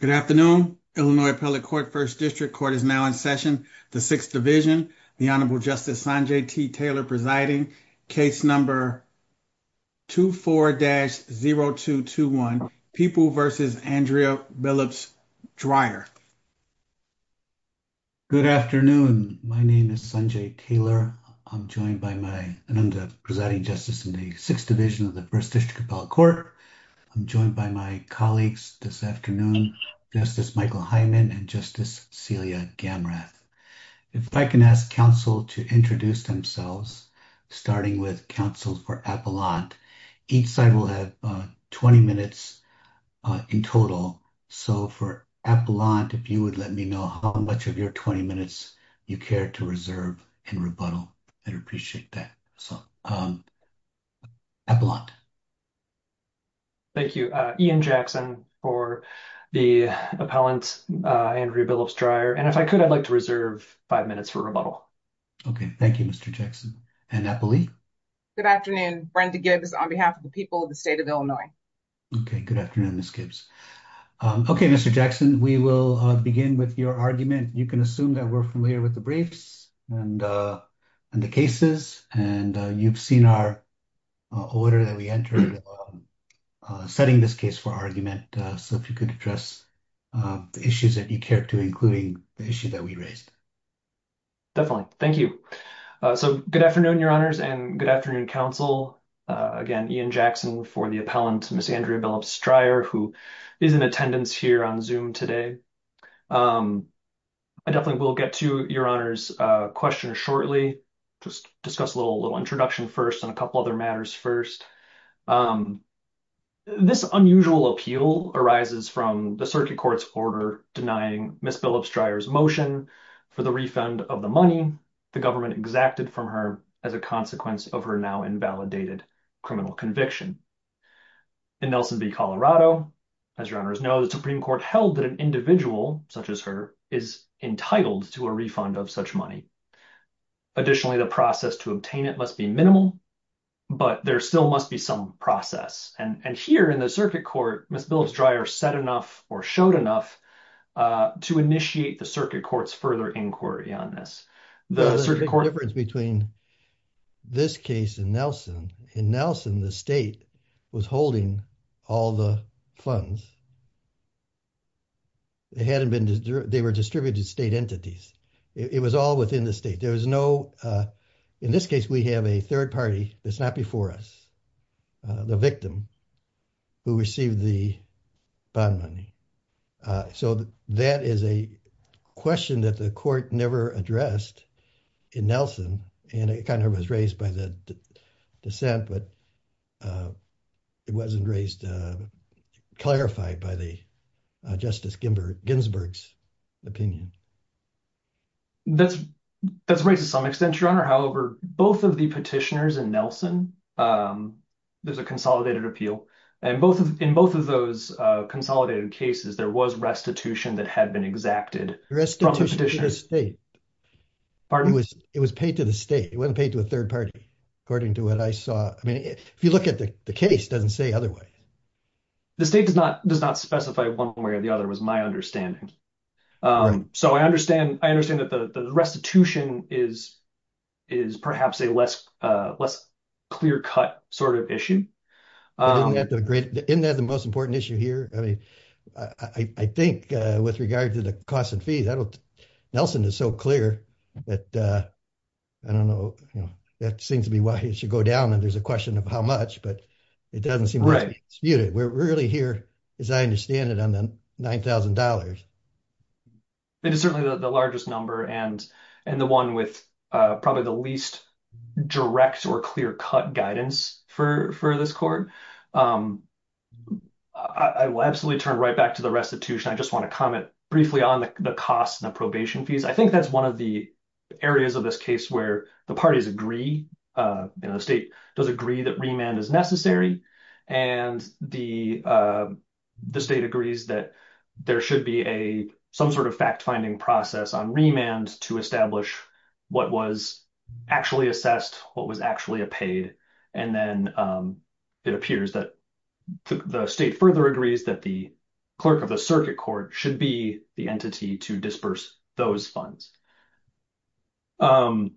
Good afternoon. Illinois Appellate Court First District Court is now in session. The Sixth Division. The Honorable Justice Sanjay T. Taylor presiding. Case number 24-0221, People v. Andrea Billups-Dryer. Good afternoon. My name is Sanjay Taylor. I'm joined by my, I'm the presiding justice in the Sixth Division of the First District Appellate Court. I'm joined by my colleagues this afternoon, Justice Michael Hyman and Justice Celia Gamrat. If I can ask counsel to introduce themselves, starting with counsel for Appellant. Each side will have 20 minutes in total. So for Appellant, if you would let me know how much of your 20 minutes you care to reserve in rebuttal, I'd appreciate that. So, Appellant. Thank you. Ian Jackson for the Appellant, Andrea Billups-Dryer. And if I could, I'd like to reserve five minutes for rebuttal. Okay. Thank you, Mr. Jackson. And Appellee? Good afternoon. Brenda Gibbs on behalf of the people of the state of Illinois. Okay. Good afternoon, Ms. Gibbs. Okay, Mr. Jackson, we will begin with your argument. You can assume that we're familiar with the briefs and the cases, and you've seen our order that we entered setting this case for argument, so if you could address the issues that you care to, including the issue that we raised. Definitely. Thank you. So, good afternoon, Your Honors, and good afternoon, counsel. Again, Ian Jackson for the Appellant, Ms. Andrea Billups-Dryer, who is in attendance here on Zoom today. I definitely will get to Your Honors' question shortly, just discuss a little introduction first on a couple other matters first. This unusual appeal arises from the Circuit Court's order denying Ms. Billups-Dryer's motion for the refund of the money the government exacted from her as a consequence of her now-invalidated criminal conviction. In Nelson v. Colorado, as Your Honors know, the Supreme Court held that an individual such as her is entitled to a refund of such money. Additionally, the process to obtain it must be minimal, but there still must be some process, and here in the Circuit Court, Ms. Billups-Dryer said enough or showed enough to initiate the Circuit Court's further inquiry on this. The Circuit Court— There's a big difference between this case and Nelson. In Nelson, the state was holding all the funds. They were distributed to state entities. It was all within the state. In this case, we have a third party that's not before us, the victim, who received the bond money. So, that is a question that the Court never addressed in Nelson, and it kind of was raised by the dissent, but it wasn't raised—clarified by Justice Ginsburg's opinion. That's right to some extent, Your Honor. However, both of the petitioners in Nelson, there's a consolidated appeal, and in both of those consolidated cases, there was restitution that had been exacted from the petitioners. Restitution to the state. Pardon? It was paid to the state. It wasn't paid to a third party, according to what I saw. If you look at the case, it doesn't say otherwise. The state does not specify one way or the other, was my understanding. So, I understand that the restitution is perhaps a less clear-cut sort of issue. Isn't that the most important issue here? I think, with regard to the cost and fees, Nelson is so clear that, I don't know, it seems to be why it should go down, and there's a question of how much, but it doesn't seem to skew it. We're really here, as I understand it, on the $9,000. It is certainly the largest number and the one with probably the least direct or clear-cut guidance for this Court. I will absolutely turn right back to the restitution. I just to comment briefly on the cost and the probation fees. I think that's one of the areas of this case where the parties agree, and the state does agree that remand is necessary, and the state agrees that there should be some sort of fact-finding process on remand to establish what was actually assessed, what was actually paid, and then it appears that the state further agrees that the clerk of the circuit court should be the entity to disburse those funds. At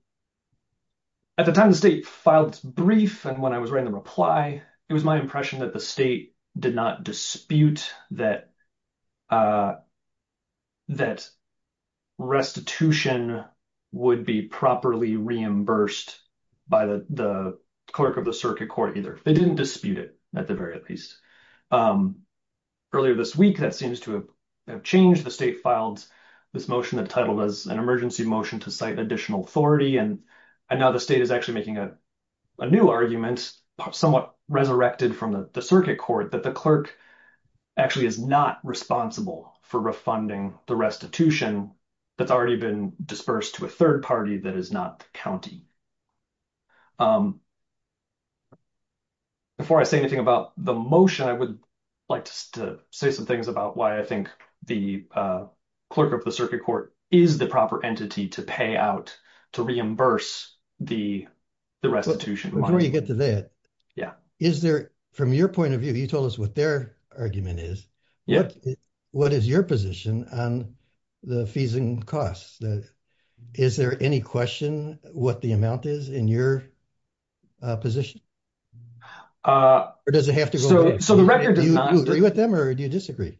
the time the state filed its brief, and when I was writing the reply, it was my impression that the state did not dispute that restitution would be properly reimbursed by the clerk of the circuit court either. They didn't dispute it, at the very least. Earlier this week, that seems to have changed. The state filed this motion entitled as an emergency motion to cite additional authority, and now the state is actually making a new argument, somewhat resurrected from the circuit court, that the clerk actually is not responsible for refunding the restitution that's already been disbursed to a third party that is not the county. Before I say anything about the motion, I would like to say some things about why I think the clerk of the circuit court is the proper entity to pay out, to reimburse the restitution. Before you get to that, from your point of view, you told us what their argument is. What is your position on the fees and costs? Is there any question what the amount is in your position? Or does it have to go with them, or do you disagree?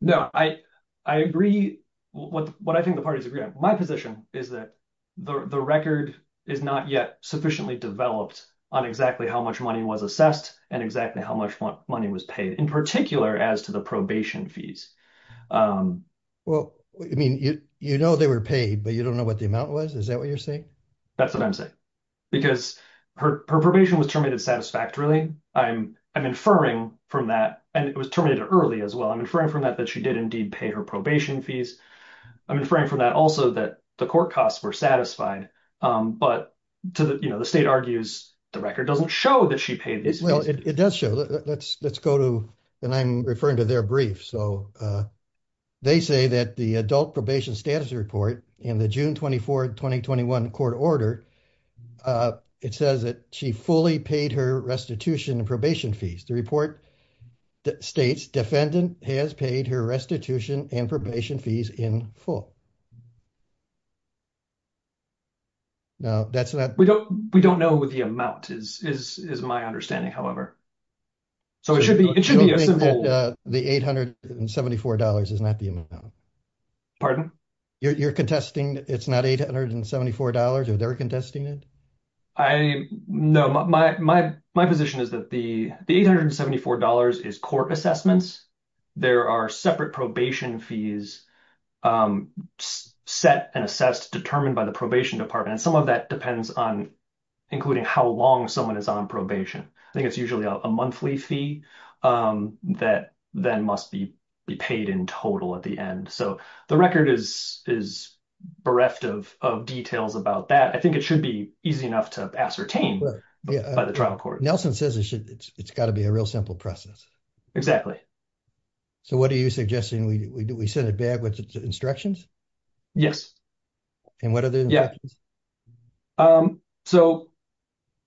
No, I agree with what I think the parties agree on. My position is that the record is not yet sufficiently developed on exactly how much money was assessed and exactly how much money was paid, in particular as to the probation fees. Well, I mean, you know they were paid, but you don't know what the amount was? Is that what you're saying? That's what I'm saying, because her probation was terminated satisfactorily. I'm inferring from that, and it was terminated early as well, I'm inferring from that that she did indeed pay her probation fees. I'm inferring from that also that the court costs were satisfied, but the state argues the record doesn't show that she paid these fees. It does show. Let's go to, and I'm referring to their briefs, so they say that the adult probation status report in the June 24, 2021 court order, it says that she fully paid her restitution and probation fees. The report states defendant has paid her restitution and probation fees in full. No, that's not. We don't know what the amount is, is my understanding, however. So, it should be. The $874 is not the amount. Pardon? You're contesting, it's not $874, are they're contesting it? I, no, my position is that the $874 is court assessments. There are separate probation fees set and assessed, determined by the probation department, and some of that depends on including how long someone is on probation. I think it's usually a monthly fee that then must be paid in total at the end. So, the record is bereft of details about that. I think it should be easy enough to ascertain by the trial court. Nelson says it's got to be a real simple process. Exactly. So, what are you suggesting? We set it back with instructions? Yes. And what are the instructions? Yes. So,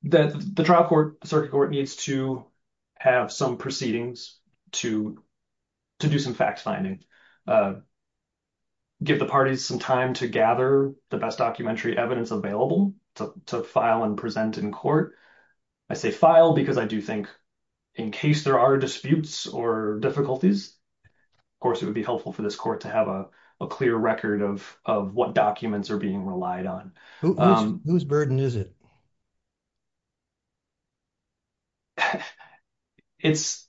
the trial court, the circuit court needs to have some proceedings to do some fact-finding, give the parties some time to gather the best documentary evidence available to file and present in court. I say file because I do think in case there are disputes or difficulties, of course, it would be helpful for this court to have a clear record of what documents are being relied on. Whose burden is it? It's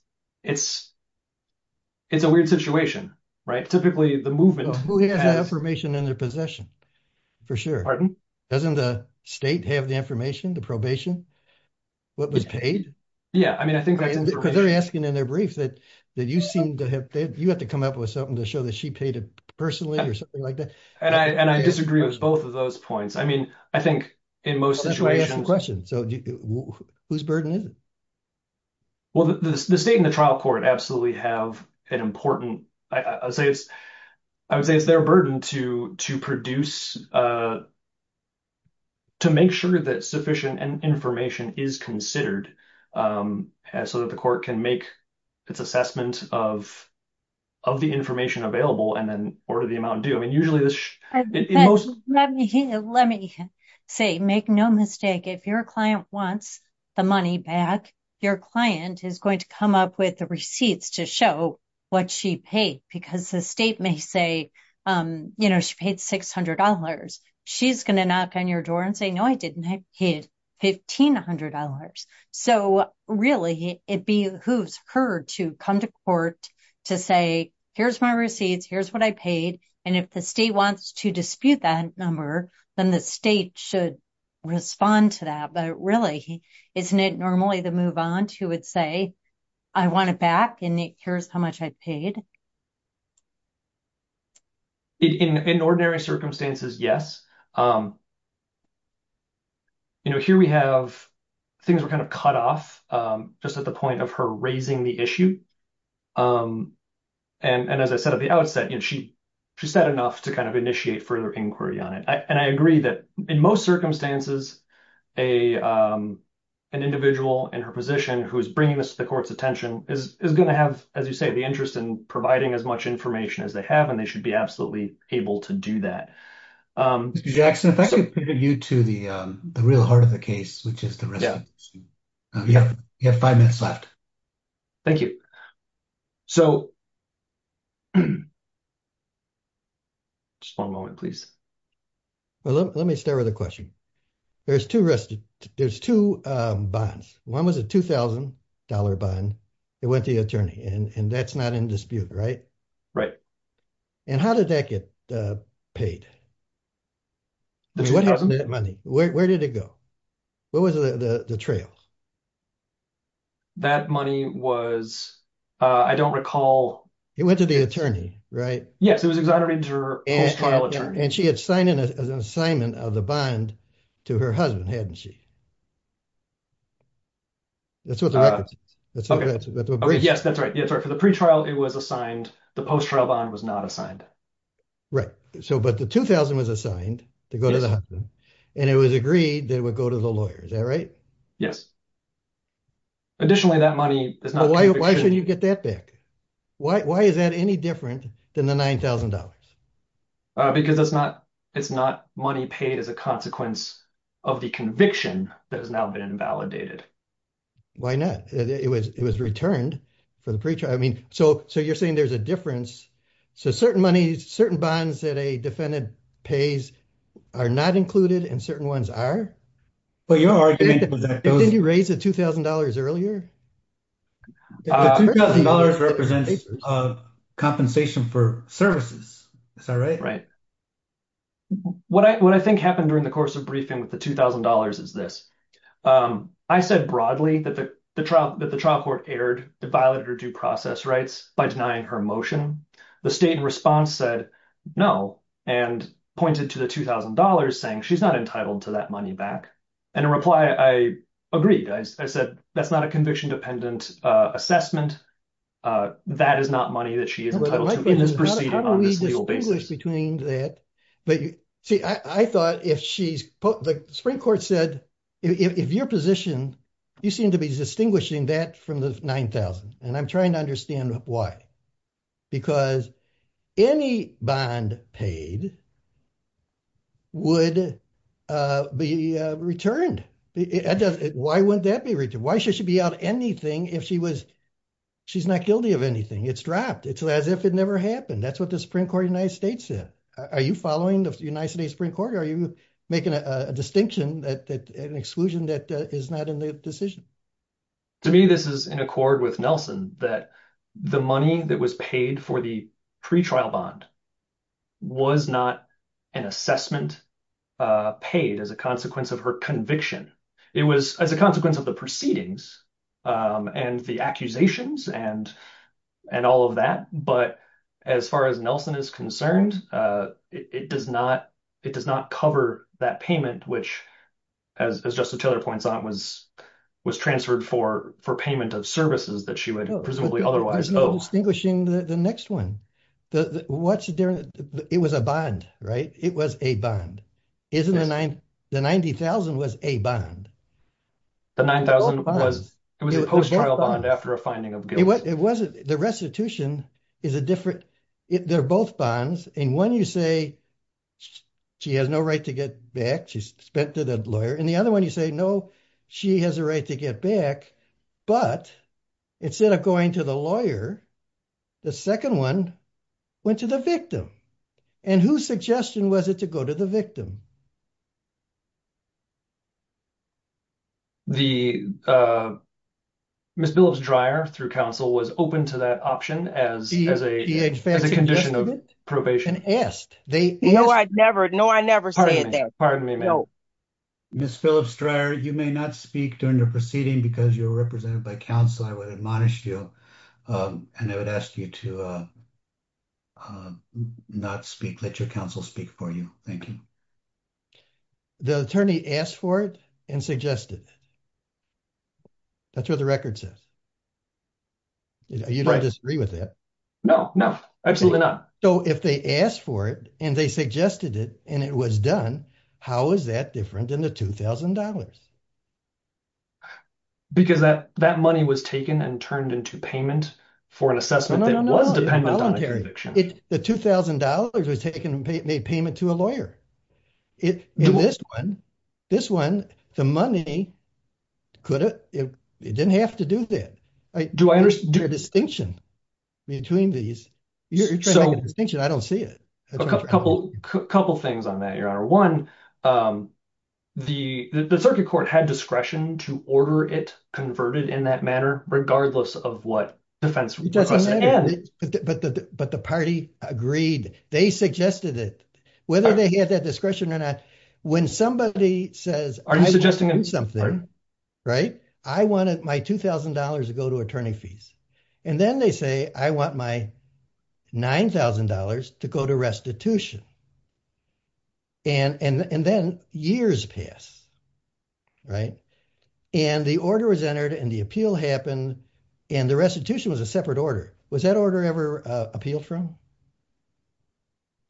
a weird situation, right? Typically, the movement... The movement has that information in their possession, for sure. Pardon? Doesn't the state have the information, the probation, what was paid? Yeah. I mean, I think... Because they're asking in their brief that you seem to have... You had to come up with something to show that she paid it personally or something like that. And I disagree with both of those points. I mean, I think in most situations... That's why I asked the question. So, whose burden is it? Well, the state and the trial court absolutely have an important... I would say it's their to produce... To make sure that sufficient information is considered so that the court can make its assessment of the information available and then order the amount due. Let me say, make no mistake. If your client wants the money back, your client is going to come up with a receipt to show what she paid because the state may say, she paid $600. She's going to knock on your door and say, no, I didn't pay $1,500. So, really, it behooves her to come to court to say, here's my receipt, here's what I paid. And if the state wants to dispute that number, then the state should respond to that. But really, isn't it normally to move on to say, I want it back and here's how much I paid? In ordinary circumstances, yes. Here we have things were kind of cut off just at the point of her raising the issue. And as I said at the outset, she said enough to kind of initiate further inquiry on it. And I agree that in most circumstances, an individual in her position who is bringing this to the court's attention is going to have, as you say, the interest in providing as much information as they have, and they should be absolutely able to do that. Mr. Jackson, if I could give you to the real heart of the case, which is the receipt. You have five minutes left. Thank you. So, just one moment, please. Well, let me start with a question. There's two bonds. One was a $2,000 bond. It went to the attorney, and that's not in dispute, right? Right. And how did that get paid? The $2,000. Where did it go? Where was the trail? That money was, I don't recall. It went to the attorney, right? Yes, it was Exonerated Juror and trial attorney. And she had signed in an assignment of the bond to her husband, hadn't she? That's what the record says. Okay, yes, that's right. For the pre-trial, it was assigned. The post-trial bond was not assigned. Right. So, but the $2,000 was assigned to go to the husband, and it was agreed that it would go to the lawyer. Is that right? Yes. Additionally, that money is not in dispute. Why should you get that back? Why is that any different than the $9,000? Because it's not money paid as a consequence of the conviction that has now been validated. Why not? It was returned for the pre-trial. I mean, so you're saying there's a difference. So, certain money, certain bonds that a defendant pays are not included, and certain ones are? Well, you're arguing that those... But didn't he raise the $2,000 earlier? The $2,000 represents compensation for services. Is that right? Right. What I think happened during the course of briefing with the $2,000 is this. I said broadly that the trial court erred, it violated her due process rights by denying her motion. The state response said, no, and pointed to the $2,000 saying she's not entitled to that money back. And in reply, I agreed. I said, that's not a conviction-dependent assessment. That is not money that she is entitled to. How do we distinguish between that? But see, I thought if she's put... The Supreme Court said, if you're positioned, you seem to be distinguishing that from the $9,000. And I'm trying to understand why. Because any bond paid would be returned. That doesn't... Why wouldn't that be returned? Why should she be out anything if she was... She's not guilty of anything. It's dropped. It's as if it never happened. That's what the Supreme Court of the United States said. Are you following the United States Supreme Court? Are you making a distinction, an exclusion that is not in the decision? To me, this is in accord with Nelson, that the money that was paid for the pre-trial bond was not an assessment paid as a consequence of her conviction. It was as a consequence of the proceedings and the accusations and all of that. But as far as Nelson is concerned, it does not cover that payment, which, as Justice Taylor points out, was transferred for payment of services that she would presumably otherwise owe. Distinguishing the next one. It was a bond, right? It was a bond. The $90,000 was a bond. The $90,000 was a post-trial bond after a finding of guilt. It wasn't. The restitution is a different... They're both bonds. In one, you say she has no right to get back. She's spent to the lawyer. In the other one, you say, no, she has a right to get back. But instead of going to the lawyer, the second one went to the victim. And whose suggestion was it to go to the victim? The... Ms. Phillips-Dryer, through counsel, was open to that option as a condition of probation. And asked. No, I never said that. Pardon me, ma'am. Ms. Phillips-Dryer, you may not speak during your proceeding because you're represented by counsel. I would admonish you. And I would ask you to not speak, let your counsel speak for you. Thank you. The attorney asked for it and suggested it. That's what the record says. You don't disagree with that? No, no, absolutely not. So if they asked for it, and they suggested it, and it was done, how is that different than the $2,000? Because that money was taken and turned into payment for an assessment that was a voluntary conviction. The $2,000 was made payment to a lawyer. This one, the money, it didn't have to do that. Do I understand? There's a distinction between these. You're trying to make a distinction. I don't see it. Couple things on that, Your Honor. One, the circuit court had discretion to order it converted in that manner, regardless of what defense request it had. But the party agreed. They suggested it. Whether they had that discretion or not, when somebody says, I need to do something, right? I wanted my $2,000 to go to attorney fees. And then they say, I want my $9,000 to go to restitution. And then years pass, right? And the order was entered, and the appeal happened, and the restitution was a separate order. Was that order ever appealed from?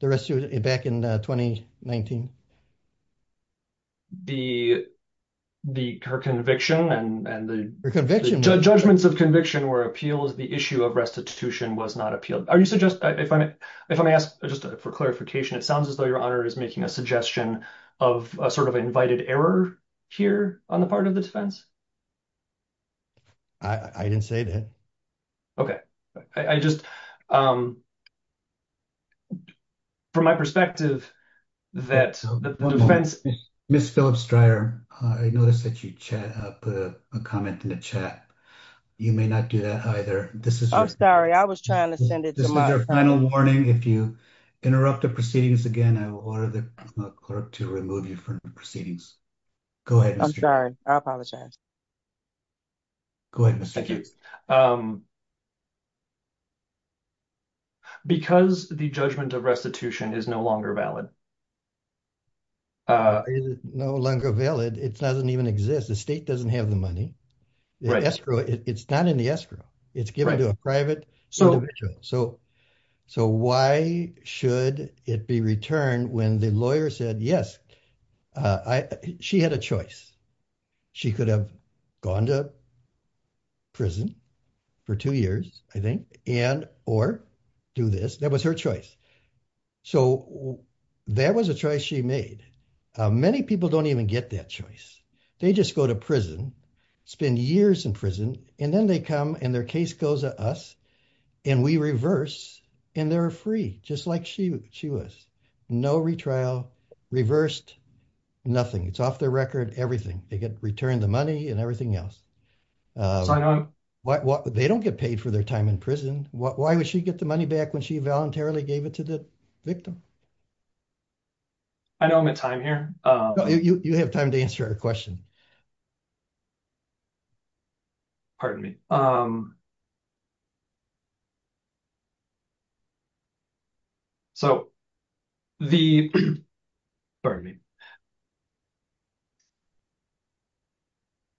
The rest of it back in 2019? Her conviction and the judgments of conviction were appealed. The issue of restitution was not appealed. Are you suggesting, if I may ask, just for clarification, it sounds as though Your Honor is making a suggestion of a sort of invited error here on the part of defense? I didn't say that. OK, I just, from my perspective, that the defense, Ms. Phillips-Stryer, I noticed that you put a comment in the chat. You may not do that either. I'm sorry. I was trying to send it. This is your final warning. If you interrupt the proceedings again, I will order the court to remove you from the proceedings. Go ahead. I'm sorry. I apologize. Go ahead, Mr. Coup. Thank you. Because the judgment of restitution is no longer valid. Is it no longer valid? It doesn't even exist. The state doesn't have the money. The escrow, it's not in the escrow. It's given to a private individual. So why should it be returned when the lawyer said, yes, she had a choice. She could have gone to prison for two years, I think, and or do this. That was her choice. So that was a choice she made. Many people don't even get that choice. They just go to prison, spend years in prison, and then they come and their case goes to us and we reverse and they're free, just like she was. No retrial, reversed, nothing. It's off the record, everything. They get returned the money and everything else. They don't get paid for their time in prison. Why would she get the money back when she voluntarily gave it to the victim? I don't have time here. You have time to answer a question. Pardon me. So the pardon me.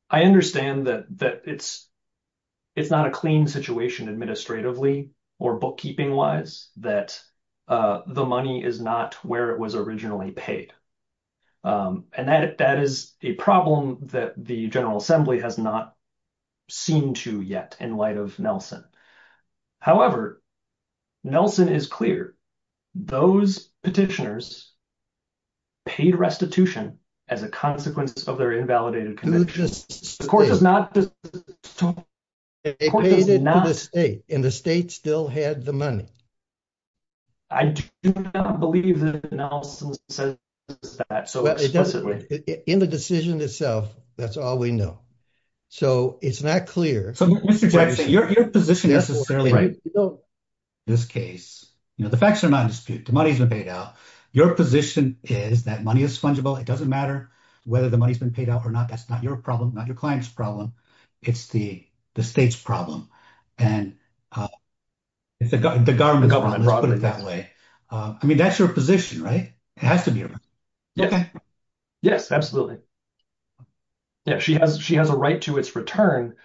I understand that it's not a clean situation administratively or bookkeeping-wise that the money is not where it was originally paid. And that is a problem that the General Assembly has not seen to yet in light of Nelson. However, Nelson is clear. Those petitioners paid restitution as a consequence of their invalidated conditions. And the state still had the money. I do not believe that Nelson says that. In the decision itself, that's all we know. So it's not clear. Your position is, in this case, the facts are not disputed. The money is paid out. Your position is that money is fungible. It doesn't matter whether the money has been paid out or not. That's not your problem, not your client's problem. It's the state's problem. And it's the government's problem, let's put it that way. I mean, that's your position, right? It has to be. Yes, absolutely. Yes, she has a right to its return.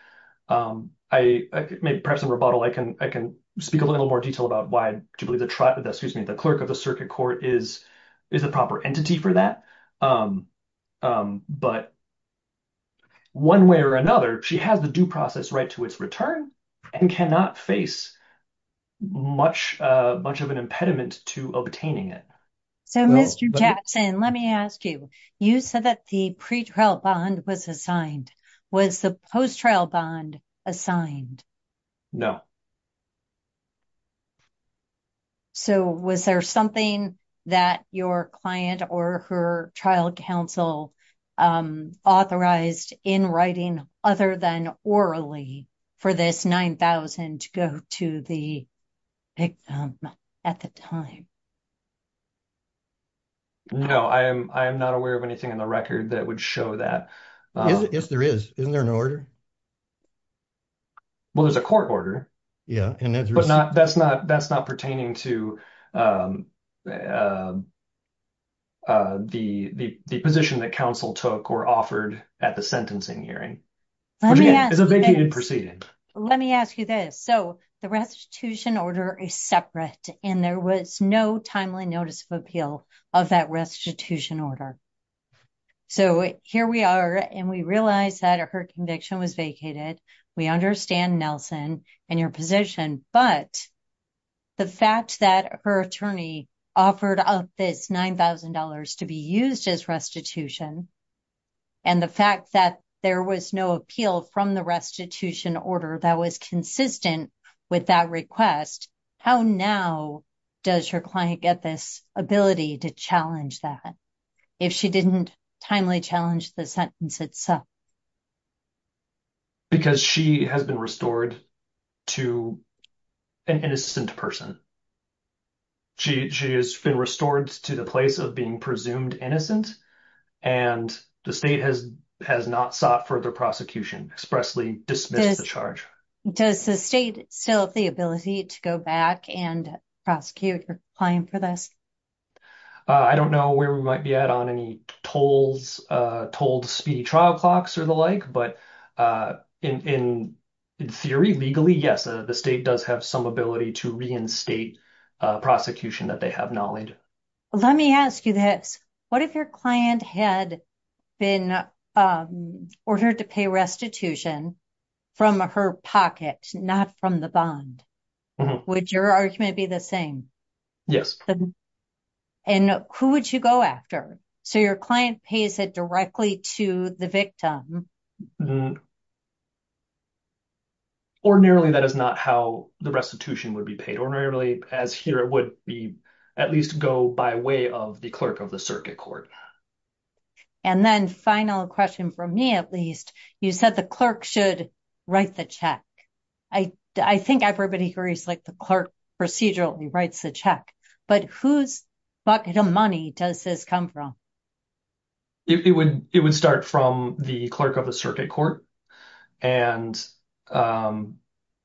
I may press a rebuttal. I can speak a little more detail about why the clerk of the circuit court is a proper entity for that. But one way or another, she has the due process right to its return and cannot face much of an impediment to obtaining it. So, Mr. Jackson, let me ask you. You said that the pretrial bond was assigned. Was the post-trial bond assigned? So, was there something that your client or her trial counsel authorized in writing other than orally for this $9,000 to go to the victim at the time? No, I am not aware of anything on the record that would show that. If there is, isn't there an order? Well, there's a court order, but that's not pertaining to the position that counsel took or offered at the sentencing hearing. Let me ask you this. So, the restitution order is separate and there was no timely notice of appeal of that restitution order. So, here we are and we realize that her conviction was vacated. We understand, Nelson, in your position. But the fact that her attorney offered up this $9,000 to be used as restitution and the fact that there was no appeal from the restitution order that was consistent with that request, how now does your client get this ability to challenge that? If she didn't timely challenge the sentence itself? Because she has been restored to an innocent person. She has been restored to the place of being presumed innocent and the state has not sought further prosecution, expressly dismissed the charge. Does the state still have the ability to go back and prosecute her client for this? I don't know where we might be at on any told speedy trial clocks or the like. But in theory, legally, yes, the state does have some ability to reinstate prosecution that they have knowledge. Let me ask you this. What if your client had been ordered to pay restitution from her pocket, not from the bond? Would your argument be the same? Yes. And who would you go after? So your client pays it directly to the victim. Ordinarily, that is not how the restitution would be paid. Ordinarily, as here, it would be at least go by way of the clerk of the circuit court. And then final question from me, at least. You said the clerk should write the check. I think everybody agrees like the clerk procedurally writes the check. But whose pocket of money does this come from? It would start from the clerk of the circuit court. And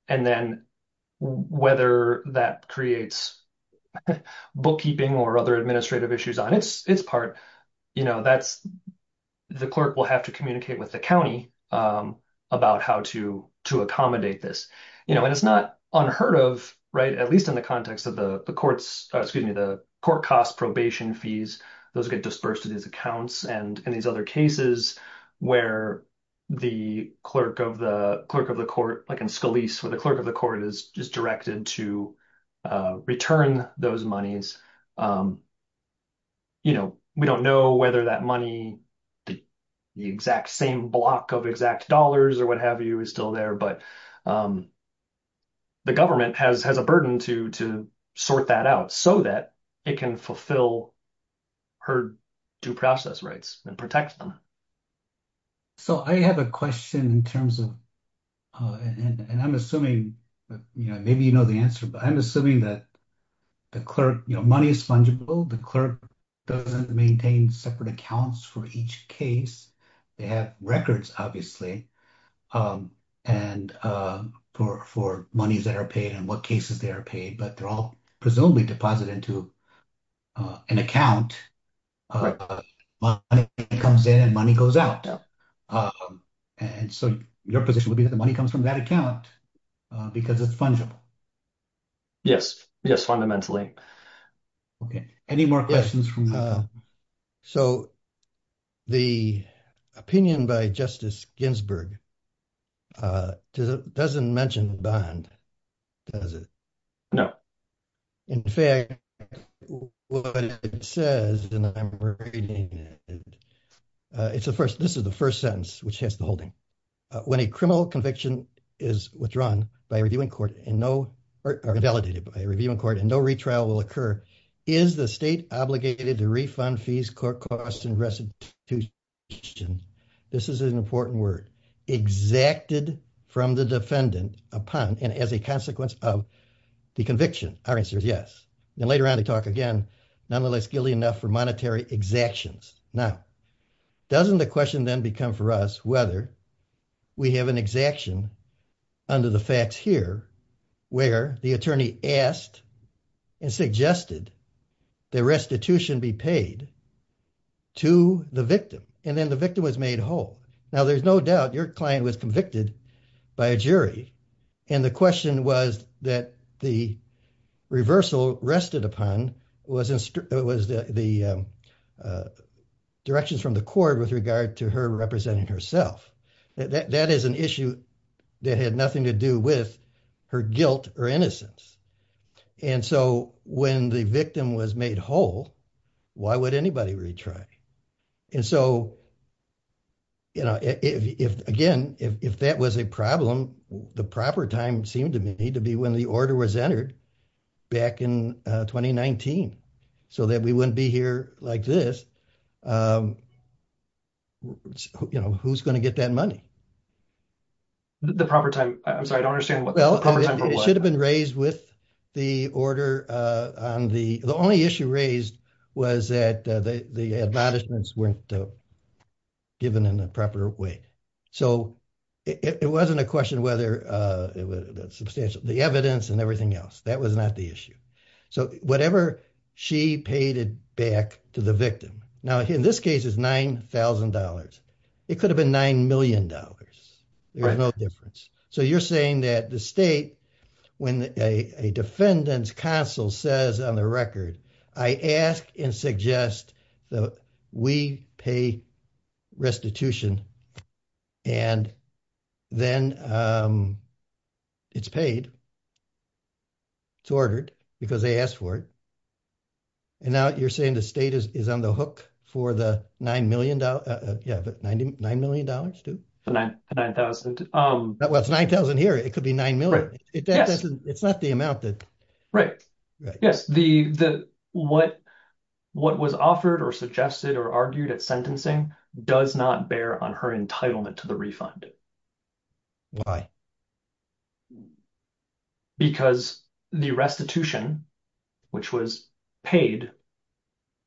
then whether that creates bookkeeping or other administrative issues on its part, the clerk will have to communicate with the county about how to accommodate this. You know, and it's not unheard of, right? At least in the context of the courts, excuse me, the court cost probation fees, those get disbursed to these accounts. And in these other cases where the clerk of the court, like in Scalise, where the clerk of the court is just directed to return those monies, you know, we don't know whether that money, the exact same block of exact dollars or what have you is still there. But the government has a burden to sort that out so that it can fulfill her due process rights and protect them. So I have a question in terms of, and I'm assuming, you know, maybe you know the answer, but I'm assuming that the clerk, you know, money is fungible. The clerk doesn't maintain separate accounts for each case. They have records, obviously. And for monies that are paid and what cases they are paid, but they're all presumably deposited into an account. Money comes in and money goes out. And so your position would be that the money comes from that account because it's fungible. Yes, yes, fundamentally. Okay. Any more questions? No. So the opinion by Justice Ginsburg doesn't mention the bond, does it? No. In fact, what it says, and I'm reading it, it's the first, this is the first sentence, which has the holding. When a criminal conviction is withdrawn by a reviewing court and no, or validated by a reviewing court and no retrial will occur, is the state obligated to refund fees, court costs, and restitution? This is an important word. Exacted from the defendant upon and as a consequence of the conviction. Our answer is yes. And later on to talk again, nonetheless, guilty enough for monetary exactions. Now, doesn't the question then become for us whether we have an exaction under the facts here where the attorney asked and suggested the restitution be paid to the victim. And then the victim was made whole. Now, there's no doubt your client was convicted by a jury. And the question was that the reversal rested upon was the directions from the court with regard to her representing herself. That is an issue that had nothing to do with her guilt or innocence. And so when the victim was made whole, why would anybody retry? And so, you know, if, again, if that was a problem, the proper time seemed to me to be when the order was entered back in 2019, so that we wouldn't be here like this. Um, you know, who's going to get that money? The proper time. I'm sorry, I don't understand. It should have been raised with the order. And the only issue raised was that the admonishments weren't given in the proper way. So it wasn't a question whether it was substantial, the evidence and everything else. That was not the issue. So whatever she paid it back to the victim. Now, in this case, it's $9,000. It could have been $9 million. There's no difference. So you're saying that the state, when a defendant's counsel says on the record, I ask and suggest that we pay restitution and then it's paid. It's ordered because they asked for it. And now you're saying the state is on the hook for the $9 million. Yeah, but $9 million, too. So $9,000. Well, it's $9,000 here. It could be $9 million. It's not the amount that. Right, yes, what was offered or suggested or argued at sentencing does not bear on her entitlement to the refund. Why? Because the restitution, which was paid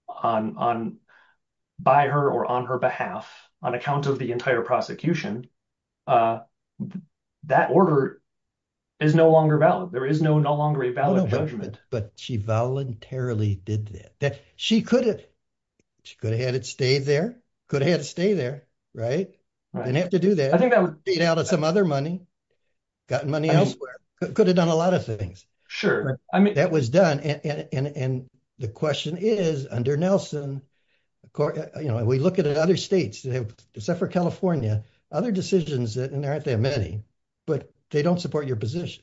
on by her or on her behalf, on account of the entire prosecution, that order is no longer valid. There is no longer a valid judgment. But she voluntarily did that. She could have had it stayed there, could have had it stay there, right? And had to do that. I think that would be out of some other money. Got money elsewhere. Could have done a lot of things. That was done. And the question is under Nelson, we look at other states, except for California, other decisions, and there aren't that many, but they don't support your position.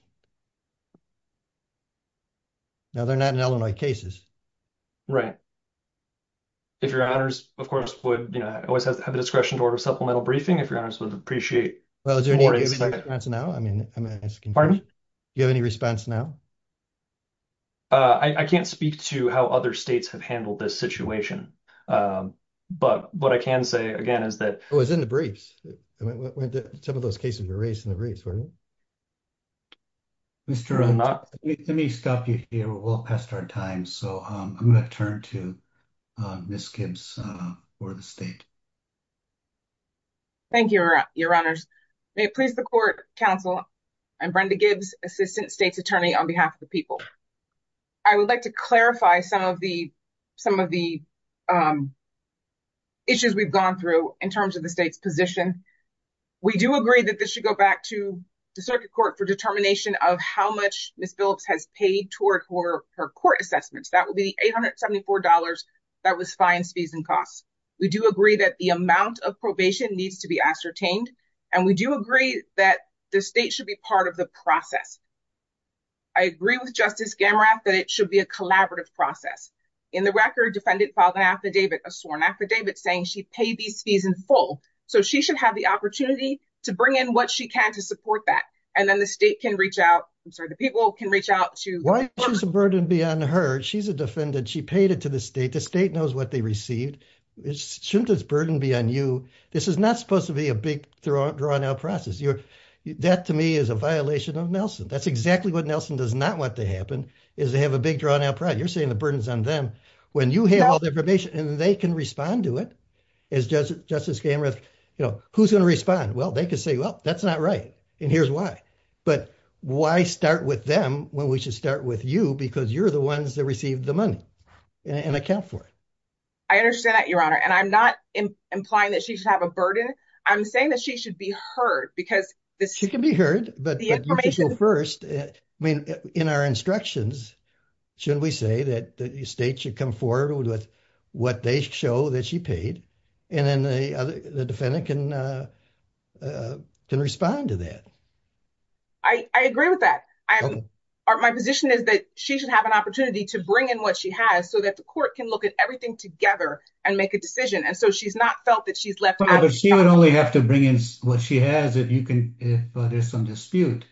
Now, they're not in Illinois cases. Right. If your honors, of course, would always have the discretion to order a supplemental briefing. If your honors would appreciate- Well, do you have any response now? I mean, I'm asking- Do you have any response now? I can't speak to how other states have handled this situation. But what I can say, again, is that- It was in the briefs. Some of those cases were raised in the briefs, weren't they? Any stuff you feel will pass our time, so I'm going to turn to Ms. Gibbs for the state. Thank you, your honors. May it please the court, counsel, I'm Brenda Gibbs, assistant state's attorney on behalf of the people. I would like to clarify some of the issues we've gone through in terms of the state's position. We do agree that this should go back to the circuit court for determination of how much Ms. Phillips has paid toward her court assessments. That would be $874. That was fines, fees, and costs. We do agree that the amount of probation needs to be ascertained. And we do agree that the state should be part of the process. I agree with Justice Gamorath that it should be a collaborative process. In the record, defendant filed an affidavit, a sworn affidavit, saying she paid these fees in full. So she should have the opportunity to bring in what she can to support that. And then the state can reach out, I'm sorry, the people can reach out to- Why is the burden be on her? She's a defendant. She paid it to the state. The state knows what they received. Shouldn't this burden be on you? This is not supposed to be a big, drawn-out process. That, to me, is a violation of Nelson. That's exactly what Nelson does not want to happen, is to have a big, drawn-out process. You're saying the burden's on them when you have all the information. And they can respond to it. As Justice Gamorath, you know, who's going to respond? Well, they could say, well, that's not right. And here's why. But why start with them when we should start with you? Because you're the ones that received the money and account for it. I understand that, Your Honor. And I'm not implying that she should have a burden. I'm saying that she should be heard, because- She can be heard, but you can go first. In our instructions, shouldn't we say that the state should come forward with what they show that she paid, and then the defendant can respond to that? I agree with that. My position is that she should have an opportunity to bring in what she has, so that the court can look at everything together and make a decision. And so, she's not felt that she's left out- She would only have to bring in what she has if there's some dispute.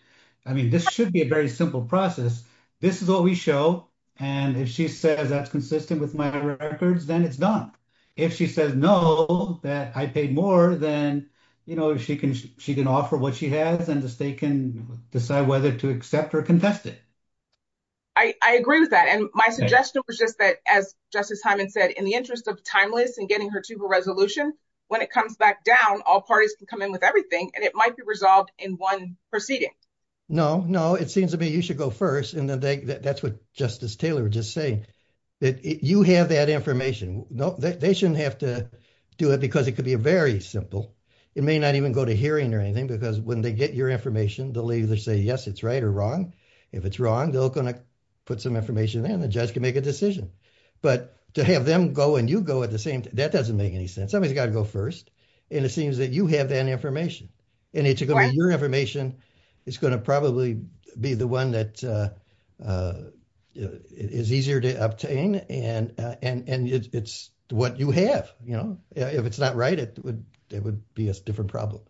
This should be a very simple process. This is what we show. And if she says, that's consistent with my records, then it's done. If she says, no, that I paid more, then she can offer what she has, and the state can decide whether to accept or contest it. I agree with that. My suggestion was just that, as Justice Hyman said, in the interest of timeless and getting her to the resolution, when it comes back down, all parties can come in with everything, and it might be resolved in one proceeding. No, no. It seems to me you should go first. And that's what Justice Taylor was just saying. You have that information. They shouldn't have to do it, because it could be very simple. It may not even go to hearing or anything, because when they get your information, they'll either say, yes, it's right or wrong. If it's wrong, they're going to put some information in, and the judge can make a decision. But to have them go and you go at the same time, that doesn't make any sense. Somebody's got to go first. And it seems that you have that information. And it's going to be your information. It's going to probably be the one that is easier to obtain. And it's what you have. If it's not right, it would be a different problem.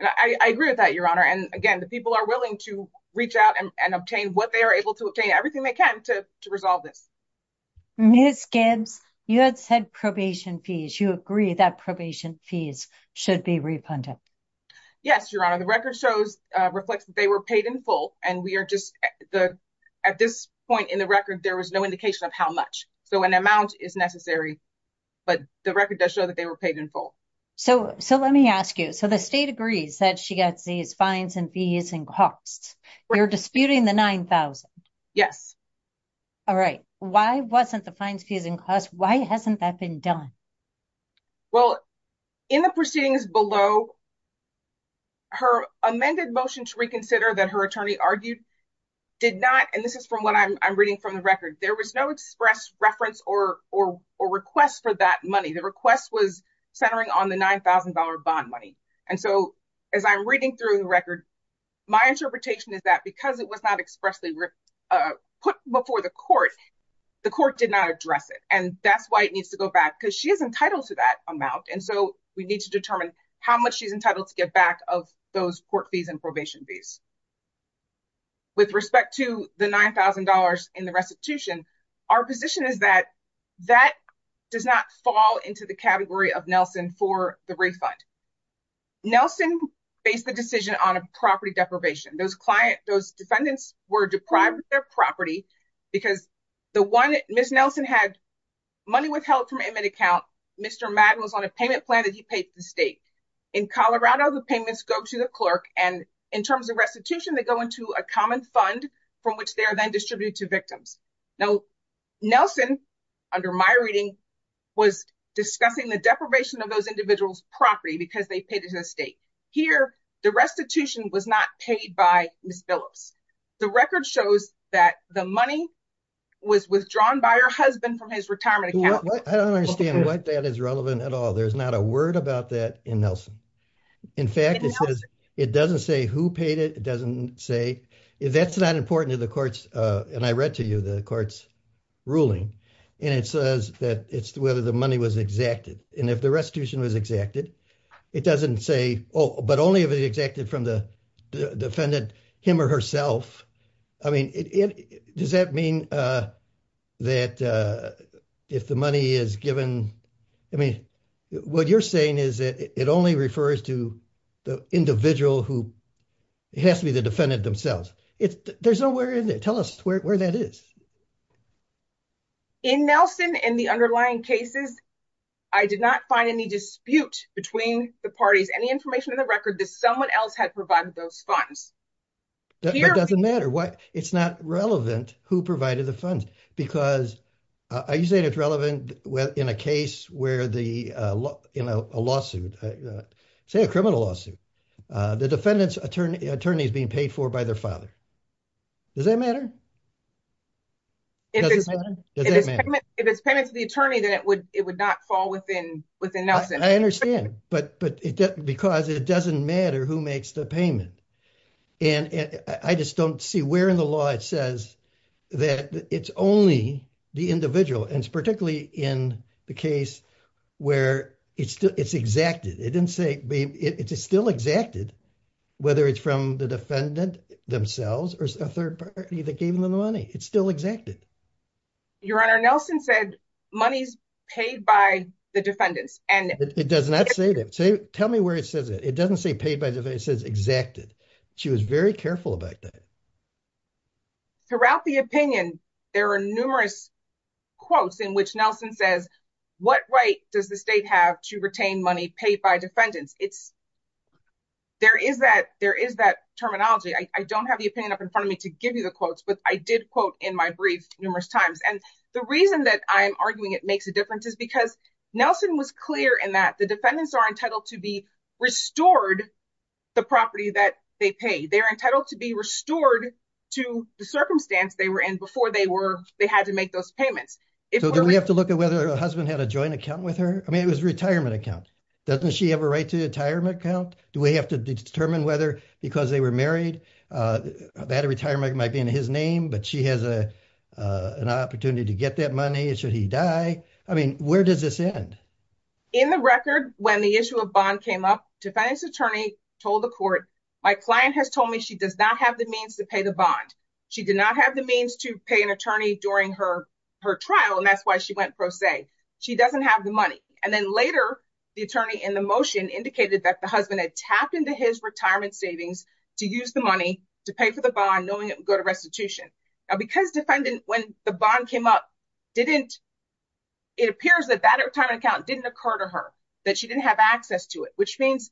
I agree with that, Your Honor. And again, the people are willing to reach out and obtain what they are able to obtain, everything they can to resolve it. Ms. Gibbs, you had said probation fees. You agree that probation fees should be refunded. Yes, Your Honor. The record shows, reflects that they were paid in full. And we are just, at this point in the record, there was no indication of how much. So an amount is necessary. But the record does show that they were paid in full. So let me ask you. The state agrees that she gets these fines and fees and costs. You're disputing the $9,000. Yes. All right. Why wasn't the fine disputed in cost? Why hasn't that been done? Well, in the proceedings below, her amended motion to reconsider that her attorney argued did not, and this is from what I'm reading from the record, there was no express reference or request for that money. The request was centering on the $9,000 bond money. And so as I'm reading through the record, my interpretation is that because it was not expressly put before the court, the court did not address it. And that's why it needs to go back because she is entitled to that amount. And so we need to determine how much she's entitled to get back of those court fees and probation fees. With respect to the $9,000 in the restitution, our position is that that does not fall into the category of Nelson for the refund. Nelson faced the decision on a property deprivation. Those clients, those defendants were deprived of their property because the one, Ms. Nelson had money withheld from an inmate account. Mr. Madden was on a payment plan and he paid for the state. In Colorado, the payments go to the clerk. And in terms of restitution, they go into a common fund from which they are then distributed to victims. Now, Nelson, under my reading, was discussing the deprivation of those individuals' property because they paid it to the state. Here, the restitution was not paid by Ms. Phillips. The record shows that the money was withdrawn by her husband from his retirement account. I don't understand why that is relevant at all. There's not a word about that in Nelson. In fact, it doesn't say who paid it. It doesn't say, that's not important in the court's, and I read to you, the court's ruling. And it says that it's whether the money was exacted. And if the restitution was exacted, it doesn't say, oh, but only if it's exacted from the defendant, him or herself. I mean, does that mean that if the money is given, I mean, what you're saying is that it only refers to the individual who has to be the defendant themselves. There's nowhere in there. Tell us where that is. In Nelson, in the underlying cases, I did not find any dispute between the parties, any information in the record that someone else had provided those funds. It doesn't matter. It's not relevant who provided the funds, because I usually think it's relevant in a case where the, you know, a lawsuit, say a criminal lawsuit, the defendant's attorney is being paid for by their father. Does that matter? If it's payment to the attorney, then it would not fall within Nelson. I understand. But because it doesn't matter who makes the payment. And I just don't see where in the law it says that it's only the individual. And it's particularly in the case where it's exacted. It didn't say, it's still exacted, whether it's from the defendant themselves or a third party that gave them the money. It's still exacted. Your Honor, Nelson said money's paid by the defendant. And it does not say that. Tell me where it says it. It doesn't say paid by the defendant. It says exacted. She was very careful about that. Throughout the opinion, there are numerous quotes in which Nelson says, what right does the state have to retain money paid by defendants? It's, there is that terminology. I don't have the opinion up in front of me to give you the quotes. But I did quote in my brief numerous times. And the reason that I'm arguing it makes a difference is because Nelson was clear in that the defendants are entitled to be restored the property that they pay. They're entitled to be restored to the circumstance they were in before they had to make those payments. So do we have to look at whether a husband had a joint account with her? I mean, it was a retirement account. Doesn't she have a right to a retirement account? Do we have to determine whether because they were married, a bad retirement might be in his name, but she has an opportunity to get that money. Should he die? I mean, where does this end? In the record, when the issue of bond came up, defendant's attorney told the court, my client has told me she does not have the means to pay the bond. She did not have the means to pay an attorney during her trial. And that's why she went pro se. She doesn't have the money. And then later, the attorney in the motion indicated that the husband had tapped into his retirement savings to use the money to pay for the bond, knowing it would go to restitution. Because defendant, when the bond came up, it appears that that account didn't occur to her, that she didn't have access to it, which means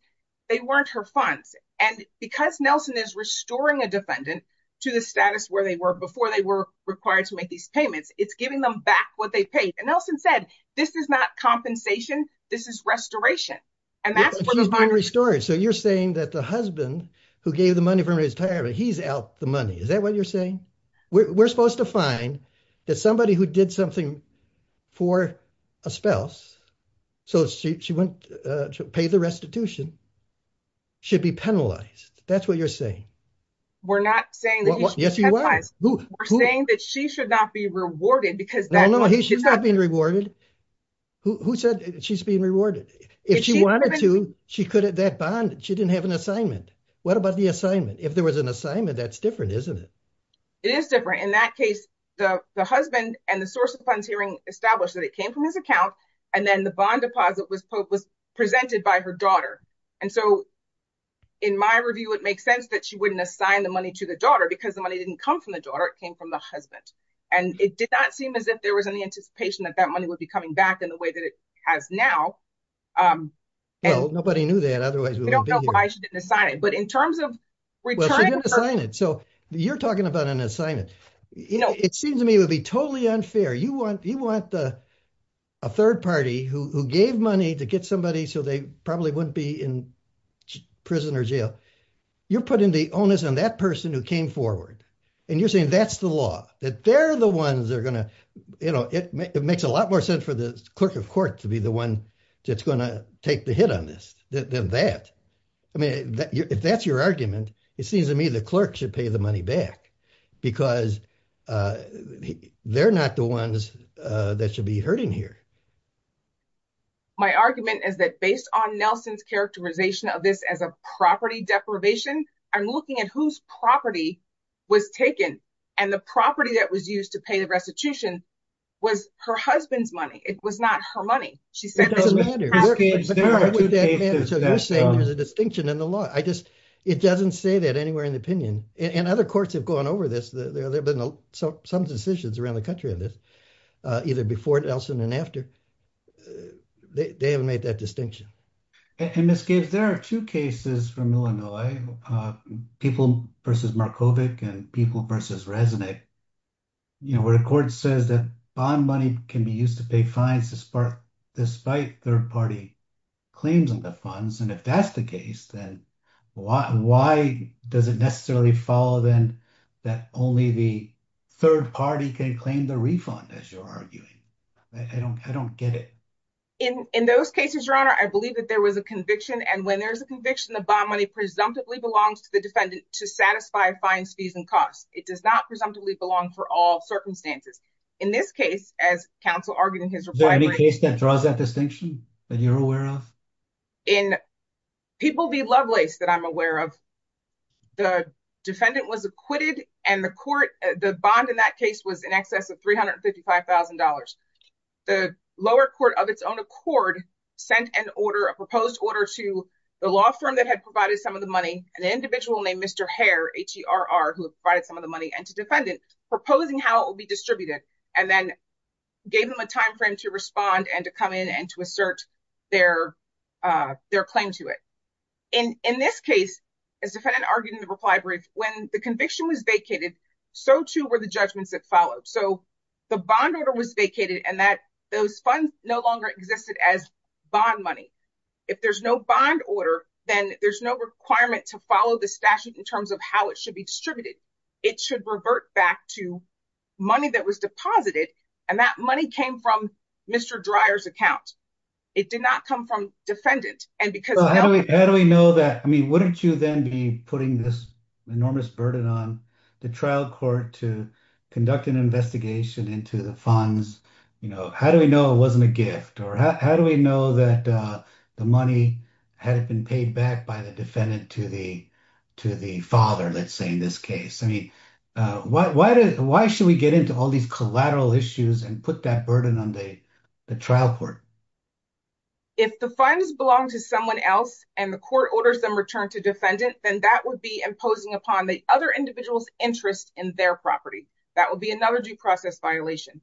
they weren't her funds. And because Nelson is restoring a defendant to the status where they were before they were required to make these payments, it's giving them back what they paid. Nelson said, this is not compensation. This is restoration. And that's what the bond is for. So you're saying that the husband who gave the money for his retirement, he's out the money. Is that what you're saying? We're supposed to find that somebody who did something for a spouse, so she went to pay the restitution, should be penalized. That's what you're saying. We're not saying that she should not be rewarded. She's not being rewarded. Who said she's being rewarded? If she wanted to, that bond, she didn't have an assignment. What about the assignment? If there was an assignment, that's different, isn't it? It is different. In that case, the husband and the source of the puns hearing established that it came from his account. And then the bond deposit was presented by her daughter. And so in my review, it makes sense that she wouldn't assign the money to the daughter because the money didn't come from the daughter. It came from the husband. And it did not seem as if there was any anticipation that that money would be coming back in the way that it has now. Well, nobody knew that. Otherwise, we wouldn't be here. I don't know why she didn't assign it. But in terms of retirement- Well, she didn't assign it. So you're talking about an assignment. It seems to me it would be totally unfair. You want a third party who gave money to get somebody so they probably wouldn't be in prison or jail. You're putting the onus on that person who came forward. And you're saying that's the law, that they're the ones that are going to- It makes a lot more sense for the clerk of court to be the one that's going to take the hit on this than that. I mean, if that's your argument, it seems to me the clerk should pay the money back because they're not the ones that should be hurting here. My argument is that based on Nelson's characterization of this as a property deprivation, I'm looking at whose property was taken. And the property that was used to pay the restitution was her husband's money. It was not her money. She said it was her husband's money. So you're saying there's a distinction in the law. It doesn't say that anywhere in the opinion. And other courts have gone over this. There have been some decisions around the country of this, either before Nelson and after. They have made that distinction. In this case, there are two cases from Illinois. People v. Markovic and People v. Resnick, where the court says that bond money can be used to pay fines despite third-party claims on the funds. And if that's the case, then why does it necessarily follow then that only the third party can claim the refund, as you're arguing? I don't get it. In those cases, Your Honor, I believe that there was a conviction. And when there's a conviction, the bond money presumptively belongs to the defendant to satisfy fines, fees, and costs. It does not presumptively belong for all circumstances. In this case, as counsel argued in his reply to me- Is there any case that draws that distinction that you're aware of? In People v. Lovelace that I'm aware of, the defendant was acquitted and the bond in that case was in excess of $355,000. The lower court of its own accord sent an order, a proposed order, to the law firm that had provided some of the money, an individual named Mr. Hare, H-E-R-R, who had provided some of the money, and to defendants, proposing how it will be distributed, and then gave them a timeframe to respond and to come in and to assert their claim to it. In this case, as the defendant argued in the reply, when the conviction was vacated, so too were the judgments that followed. The bond order was vacated, and those funds no longer existed as bond money. If there's no bond order, then there's no requirement to follow the statute in terms of how it should be distributed. It should revert back to money that was deposited, and that money came from Mr. Dreyer's account. It did not come from defendant, and because- How do we know that? Wouldn't you then be putting this enormous burden on the trial court to conduct an investigation into the funds? How do we know it wasn't a gift? Or how do we know that the money had been paid back by the defendant to the father, let's say, in this case? Why should we get into all these collateral issues and put that burden on the trial court? If the funds belong to someone else, and the court orders them returned to defendants, then that would be imposing upon the other individual's interest in their property. That would be another due process violation.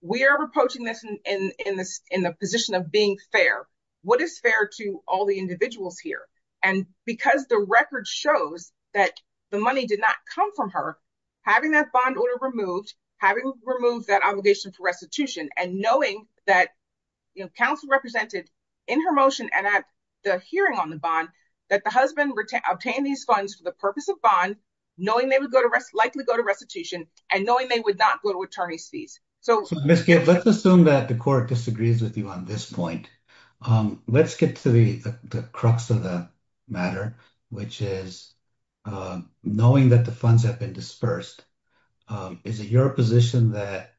We are proposing this in the position of being fair. What is fair to all the individuals here? And because the record shows that the money did not come from her, having that bond order removed, having removed that obligation for restitution, and knowing that counsel represented in her motion and at the hearing on the bond that the husband obtained these funds for the purpose of bond, knowing they would likely go to restitution, and knowing they would not go to attorney's fees. So, Ms. Gibbs, let's assume that the court disagrees with you on this point. Let's get to the crux of the matter, which is knowing that the funds have been dispersed. Is it your position that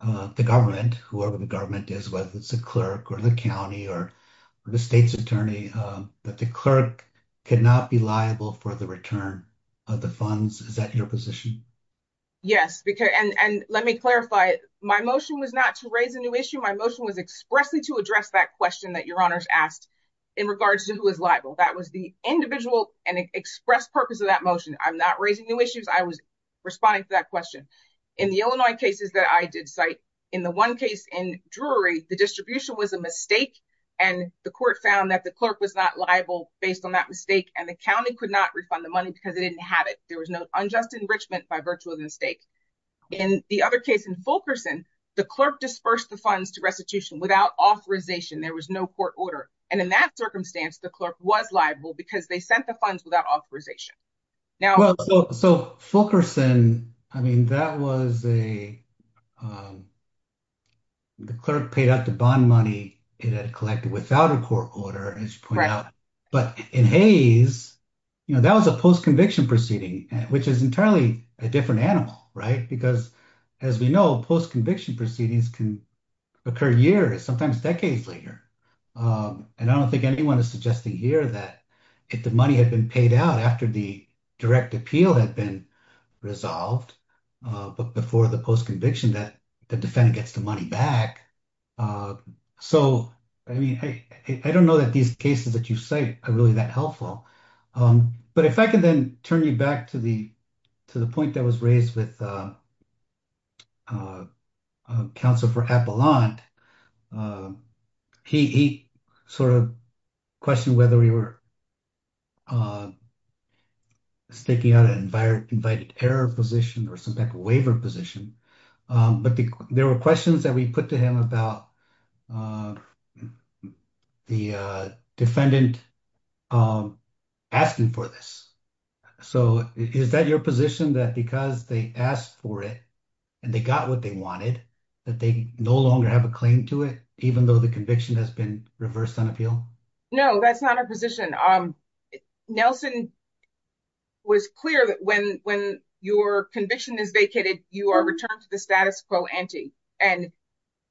the government, whoever the government is, whether it's a clerk or the county or the state's attorney, that the clerk cannot be liable for the return of the funds? Is that your position? Yes. And let me clarify. My motion was not to raise a new issue. My motion was expressly to address that question that Your Honors asked in regards to who is liable. That was the individual and express purpose of that motion. I'm not raising new issues. I was responding to that question. In the Illinois cases that I did cite, in the one case in Drury, the distribution was a mistake, and the court found that the clerk was not liable based on that mistake, and the county could not refund the money because it didn't have it. There was no unjust enrichment by virtue of the mistake. In the other case, in Fulkerson, the clerk dispersed the funds to restitution without authorization. There was no court order. And in that circumstance, the clerk was liable because they sent the funds without authorization. So, Fulkerson, I mean, that was a... The clerk paid out the bond money it had collected without a court order, as you pointed out. But in Hayes, that was a post-conviction proceeding, which is entirely a different animal, right? Because, as we know, post-conviction proceedings can occur years, sometimes decades later. And I don't think anyone is suggesting here that if the money had been paid out after the direct appeal had been resolved, but before the post-conviction, that the defendant gets the money back. So, I mean, I don't know that these cases that you cite are really that helpful. But if I could then turn you back to the point that was raised with counsel for Avalon. He sort of questioned whether we were sticking out an invited-error position or some type of waiver position. But there were questions that we put to him about the defendant asking for this. So, is that your position, that because they asked for it and they got what they wanted, that they no longer have a claim to it, even though the conviction has been reversed on appeal? No, that's not our position. Nelson was clear that when your conviction is vacated, you are returned to the status quo ante. And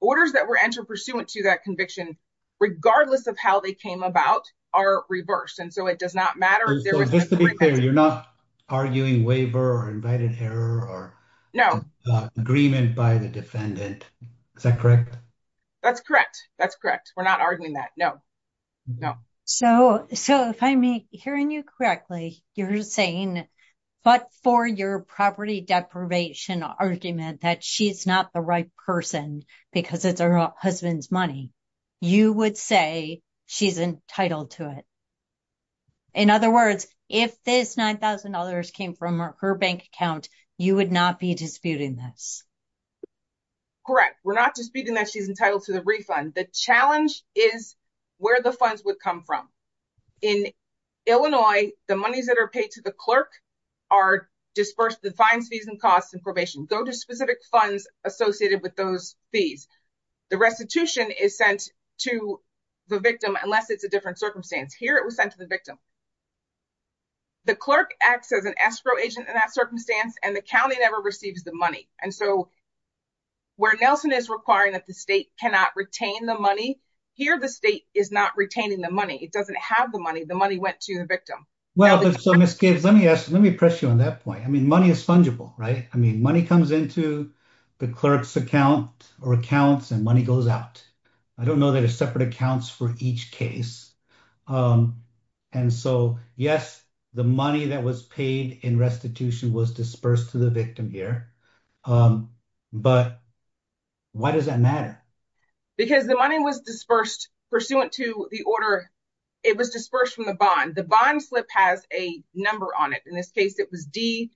orders that were entered pursuant to that conviction, regardless of how they came about, are reversed. And so, it does not matter. And so, just to be clear, you're not arguing waiver or invited-error or agreement by the defendant. Is that correct? That's correct. That's correct. We're not arguing that, no. So, if I'm hearing you correctly, you're saying, but for your property deprivation argument that she's not the right person because of her husband's money, you would say she's entitled to it. In other words, if this $9,000 came from her bank account, you would not be disputing that. Correct. We're not disputing that she's entitled to the refund. The challenge is where the funds would come from. In Illinois, the monies that are paid to the clerk are disbursed to fine fees and costs and probation. Go to specific funds associated with those fees. The restitution is sent to the victim, unless it's a different circumstance. Here, it was sent to the victim. The clerk acts as an escrow agent in that circumstance, and the county never receives the money. And so, where Nelson is requiring that the state cannot retain the money, here, the state is not retaining the money. It doesn't have the money. The money went to the victim. Well, Ms. Case, let me press you on that point. I mean, money is fungible, right? I mean, money comes into the clerk's account or accounts, and money goes out. I don't know that there's separate accounts for each case. And so, yes, the money that was paid in restitution was disbursed to the victim here. But why does that matter? Because the money was disbursed pursuant to the order. It was disbursed from the bond. The bond slip has a number on it. In this case, it was D,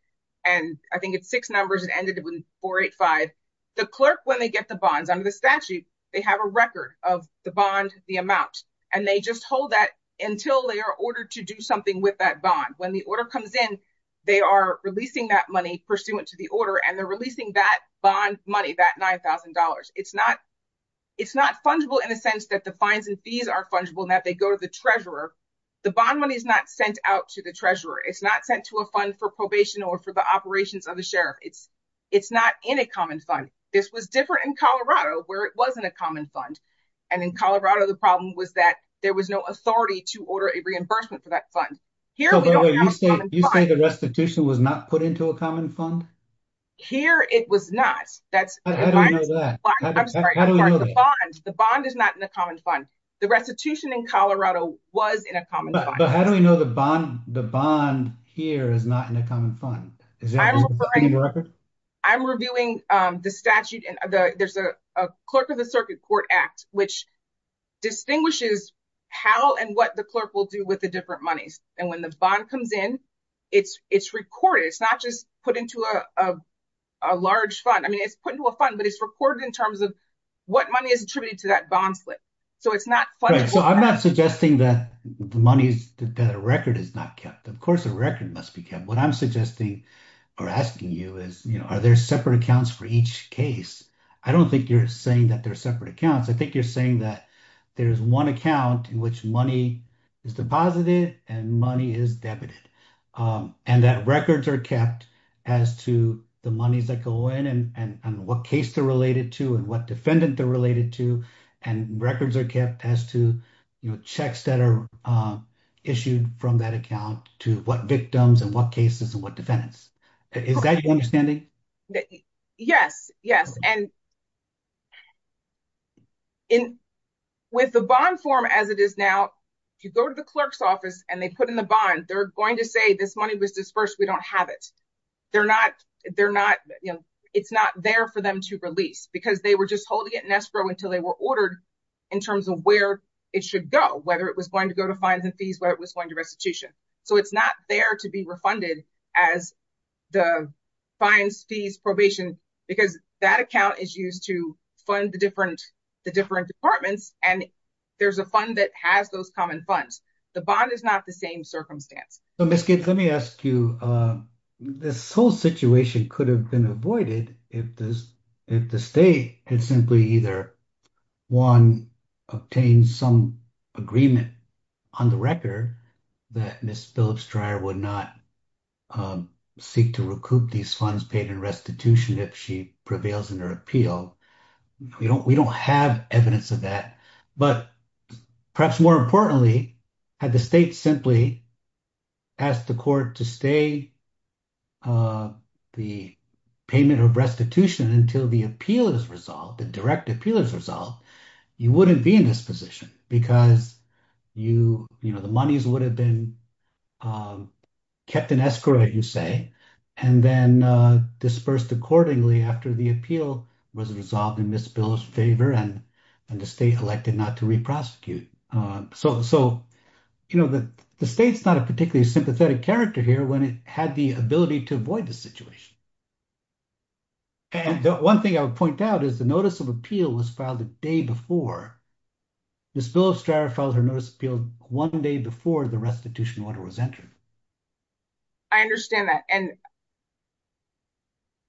and I think it's six numbers. It ended with 485. The clerk, when they get the bonds under the statute, they have a record of the bond, the amount, and they just hold that until they are ordered to do something with that bond. When the order comes in, they are releasing that money pursuant to the order, and they're releasing that bond money, that $9,000. It's not fungible in a sense that the fines and fees are fungible, and that they go to the treasurer. The bond money is not sent out to the treasurer. It's not sent to a fund for probation or for the operations of the sheriff. It's not in a common fund. This was different in Colorado, where it wasn't a common fund. And in Colorado, the problem was that there was no authority to order a reimbursement for that fund. Barbara, you say the restitution was not put into a common fund? Here, it was not. The bond is not in a common fund. The restitution in Colorado was in a common fund. But how do we know the bond here is not in a common fund? I'm reviewing the statute. There's a Clerk of the Circuit Court Act, which distinguishes how and what the clerk will do with the different monies. And when the bond comes in, it's recorded. It's not just put into a large fund. I mean, it's put into a fund, but it's recorded in terms of what money is attributed to that bond flip. So it's not fungible. I'm not suggesting that the record is not kept. Of course, the record must be kept. What I'm suggesting or asking you is, are there separate accounts for each case? I don't think you're saying that there are separate accounts. I think you're saying that there's one account in which money is deposited and money is debited. And that records are kept as to the monies that go in and what case they're related to and what defendant they're related to. And records are kept as to checks that are issued from that account to what victims and what cases and what defendants. Is that your understanding? Yes, yes. And with the bond form as it is now, if you go to the clerk's office and they put in the bond, they're going to say this money was disbursed, we don't have it. It's not there for them to release because they were just holding it in escrow until they were ordered in terms of where it should go, whether it was going to go to fines and fees, whether it was going to restitution. So it's not there to be refunded as the fines, fees, probation, because that account is used to fund the different departments and there's a fund that has those common funds. The bond is not the same circumstance. So Ms. Gates, let me ask you, this whole situation could have been avoided if the state had simply either, one, obtained some agreement on the record that Ms. Phillips-Dryer would not seek to recoup these funds paid in restitution if she prevails in her appeal. We don't have evidence of that. But perhaps more importantly, had the state simply asked the court to stay the payment of restitution until the appeal is resolved, the direct appeal is resolved, you wouldn't be in this position because the monies would have been kept in escrow, you say, and then dispersed accordingly after the appeal was resolved in Ms. Phillips' favor and the state elected not to re-prosecute. So the state's not a particularly sympathetic character here when it had the ability to avoid the situation. And one thing I would point out is the notice of appeal was filed the day before Ms. Phillips-Dryer filed her notice of appeal one day before the restitution order was entered. I understand that. And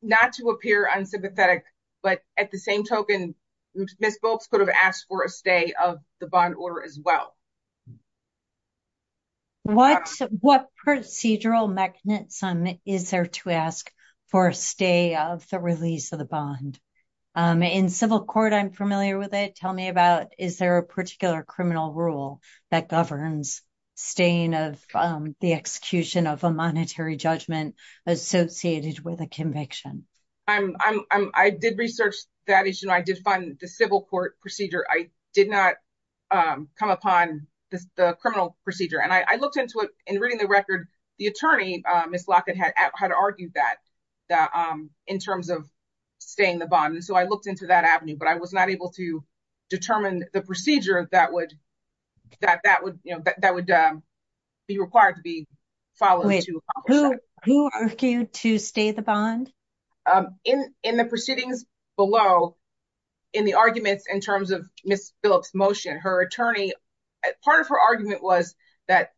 not to appear unsympathetic, but at the same token, Ms. Phillips could have asked for a stay of the bond order as well. What procedural mechanism is there to ask for a stay of the release of the bond? In civil court, I'm familiar with it. Tell me about, is there a particular criminal rule that governs staying of the execution of a monetary judgment associated with a conviction? I did research that issue. I did find the civil court procedure. I did not come upon the criminal procedure. And I looked into it and reading the record, the attorney, Ms. Lockett, had argued that in terms of staying the bond. And so I looked into that avenue, but I was not able to determine the procedure that would be required to be followed to accomplish that. Who argued to stay the bond? In the proceedings below, in the arguments in terms of Ms. Phillips' motion, her attorney, part of her argument was that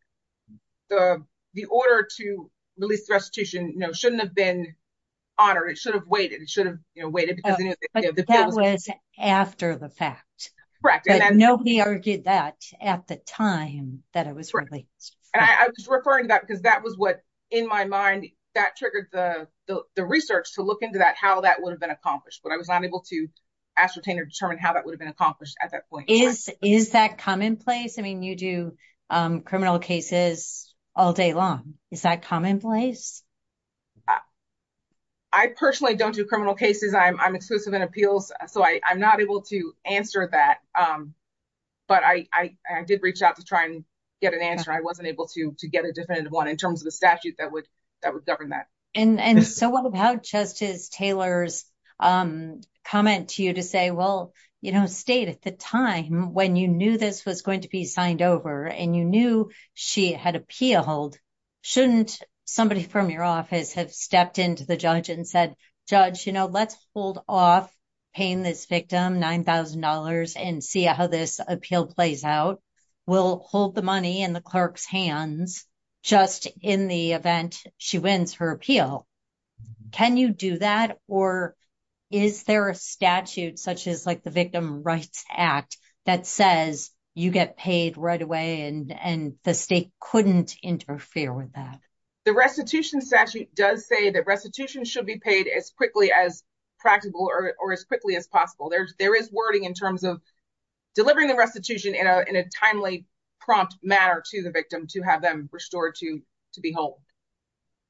the order to release the restitution shouldn't have been honored. It should have waited. It should have waited. That was after the fact. Nobody argued that at the time that it was released. And I was referring to that because that was what, in my mind, that triggered the research to look into that, how that would have been accomplished. But I was not able to ascertain or determine how that would have been accomplished at that point. Is that commonplace? I mean, you do criminal cases all day long. Is that commonplace? I personally don't do criminal cases. I'm exclusive in appeals, so I'm not able to answer that. But I did reach out to try and get an answer. I wasn't able to get a definitive one in terms of the statute that would govern that. And so what about Justice Taylor's comment to you to say, well, State, at the time when you knew this was going to be signed over and you knew she had appealed, shouldn't somebody from your office have stepped into the judge and said, Judge, let's hold off paying this victim $9,000 and see how this appeal plays out. We'll hold the money in the clerk's hands just in the event she wins her appeal. Can you do that? Or is there a statute such as the Victim Rights Act that says you get paid right away and the State couldn't interfere with that? The restitution statute does say that restitution should be paid as quickly as practical or as quickly as possible. There is wording in terms of delivering the restitution in a timely, prompt manner to the victim to have them restored to be held.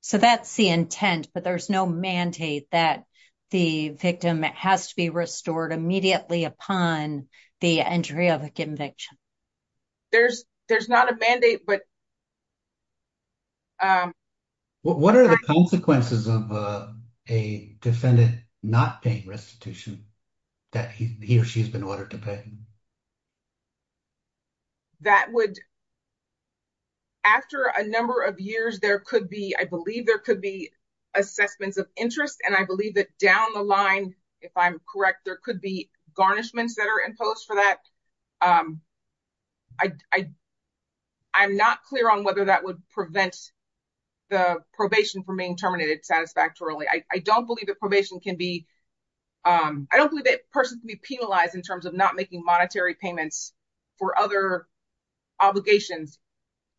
So that's the intent, but there's no mandate that the victim has to be restored immediately upon the entry of a conviction. There's not a mandate, but... What are the consequences of a defendant not paying restitution that he or she's been ordered to pay? That would... After a number of years, there could be, I believe there could be assessments of interest and I believe that down the line, if I'm correct, there could be garnishments that are imposed for that. I'm not clear on whether that would prevent the probation from being terminated satisfactorily. I don't believe that probation can be... I don't believe that a person can be penalized in terms of not making monetary payments for other obligations.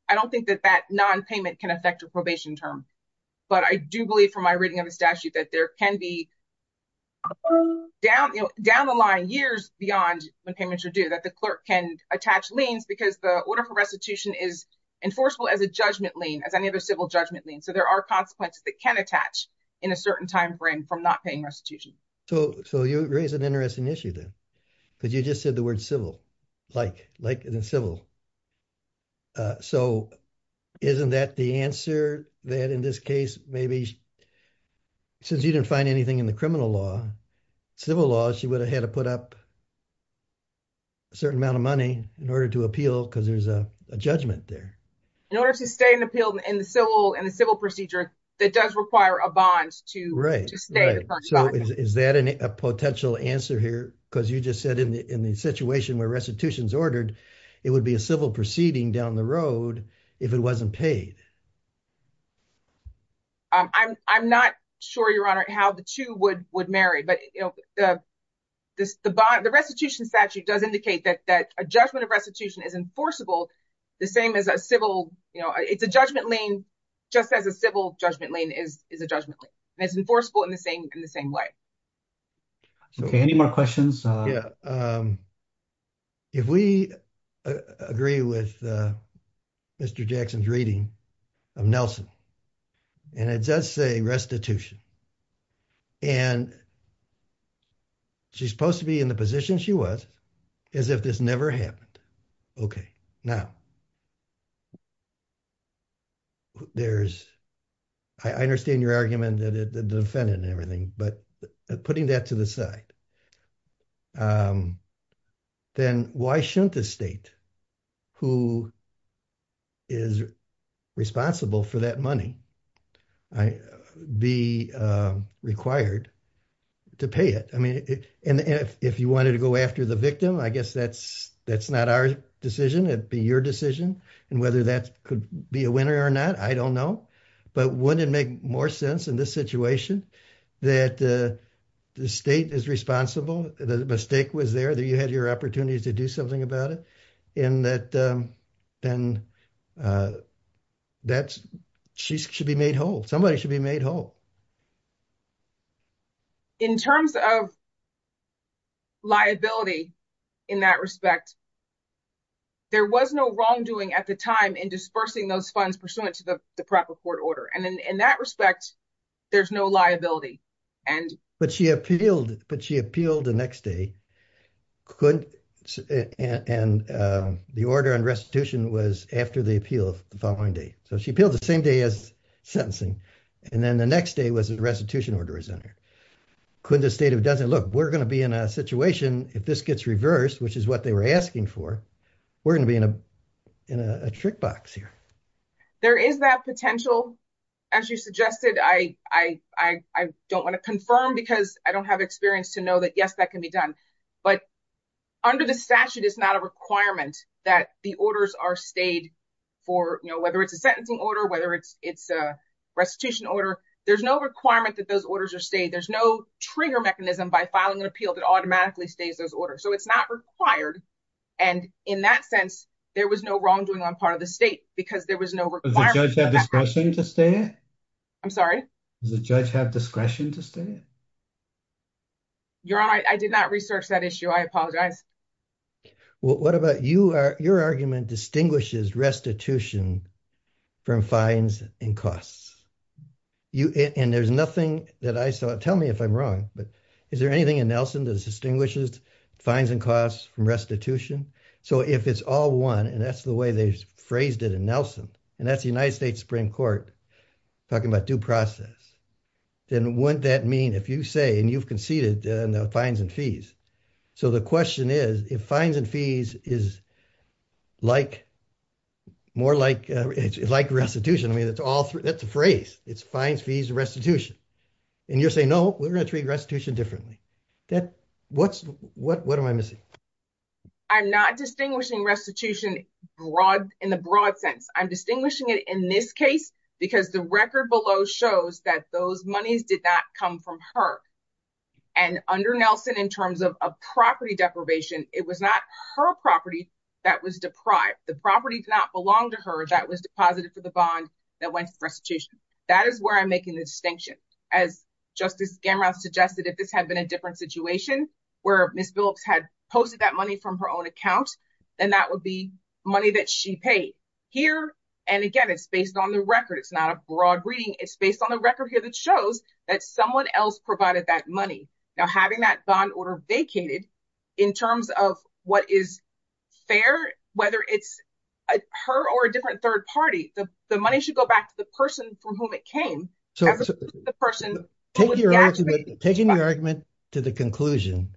I don't think that that non-payment can affect a probation term, but I do believe from my reading of the statute that there can be down the line, years beyond when payments are due, that the clerk can attach liens because the order for restitution is enforceable as a judgment lien, as any other civil judgment lien. So there are consequences that can attach in a certain timeframe from not paying restitution. So you raise an interesting issue then, because you just said the word civil, like in the civil. So isn't that the answer that in this case, maybe since you didn't find anything in the criminal law, civil law, she would have had to put up a certain amount of money in order to appeal because there's a judgment there. In order to stay in the civil procedure, that does require a bond to stay. Right, right. So is that a potential answer here? Because you just said in the situation where restitution is ordered, it would be a civil proceeding down the road if it wasn't paid. I'm not sure, Your Honor, how the two would marry, but the restitution statute does indicate that a judgment of restitution is enforceable. The same as a civil, it's a judgment lien, just as a civil judgment lien is a judgment lien. It's enforceable in the same way. Any more questions? If we agree with Mr. Jackson's reading of Nelson, and it does say restitution, and she's supposed to be in the position she was, as if this never happened. Okay, now, there's, I understand your argument that the defendant and everything, but putting that to the side, then why shouldn't the state who is responsible for that money be required to pay it? I mean, if you wanted to go after the victim, I guess that's not our decision, it'd be your decision, and whether that could be a winner or not, I don't know, but wouldn't it make more sense in this situation that the state is responsible, that the mistake was there, that you had your opportunity to do something about it, and that she should be made whole, somebody should be made whole. In terms of liability, in that respect, there was no wrongdoing at the time in dispersing those funds pursuant to the proper court order, and in that respect, there's no liability. But she appealed the next day, and the order on restitution was after the appeal of the following day, so she appealed the same day as sentencing, and then the next day was the restitution order is on here. Look, we're going to be in a situation, if this gets reversed, which is what they were asking for, we're going to be in a trick box here. There is that potential, as you suggested, I don't want to confirm because I don't have experience to know that yes, that can be done, but under this statute, it's not a requirement that the orders are stayed for whether it's a sentencing order, whether it's a restitution order, there's no requirement that those orders are stayed, there's no trigger mechanism by filing an appeal that automatically stays those orders, so it's not required, and in that sense, there was no wrongdoing on part of the state because there was no requirement. Does the judge have discretion to stay? I'm sorry? Does the judge have discretion to stay? Your Honor, I did not research that issue, I apologize. What about you? Your argument distinguishes restitution from fines and costs, and there's nothing that I saw, tell me if I'm wrong, but is there anything in Nelson that distinguishes fines and costs from restitution? So if it's all one, and that's the way they phrased it in Nelson, and that's the United States Supreme Court talking about due process, then wouldn't that mean if you say, and you've conceded the fines and fees, so the question is, if fines and fees is like restitution, I mean, that's a phrase, it's fines, fees, restitution, and you're saying, no, we're going to treat restitution differently. What am I missing? I'm not distinguishing restitution in the broad sense, I'm distinguishing it in this case because the record below shows that those monies did not come from her, and under Nelson in terms of property deprivation, it was not her property that was deprived, the property did not belong to her that was deposited for the bond that went to restitution. That is where I'm making the distinction. As Justice Gamerau suggested, if this had been a different situation where Ms. Phillips had posted that money from her own account, then that would be money that she paid. Here, and again, it's based on the record, it's not a broad reading, it's based on the record here that shows that someone else provided that money. Now having that bond order vacated in terms of what is fair, whether it's her or a different third party, the money should go back to the person from whom it came. That was just the person- Taking your argument to the conclusion,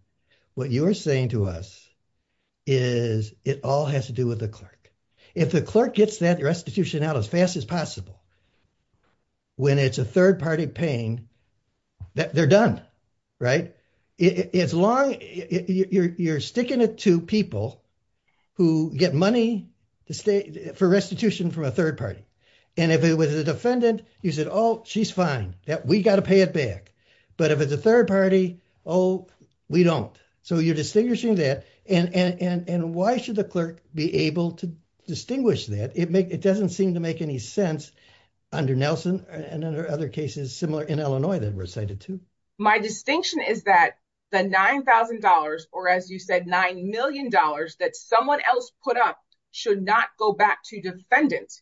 what you're saying to us is it all has to do with the clerk. If the clerk gets that restitution out as fast as possible, when it's a third party paying, they're done, right? As long as you're sticking it to people who get money for restitution from a third party. And if it was a defendant, you said, oh, she's fine. We got to pay it back. But if it's a third party, oh, we don't. So you're distinguishing that. And why should the clerk be able to distinguish that? It doesn't seem to make any sense under Nelson and other cases similar in Illinois that were cited too. My distinction is that the $9,000 or as you said, $9 million that someone else put up should not go back to defendant.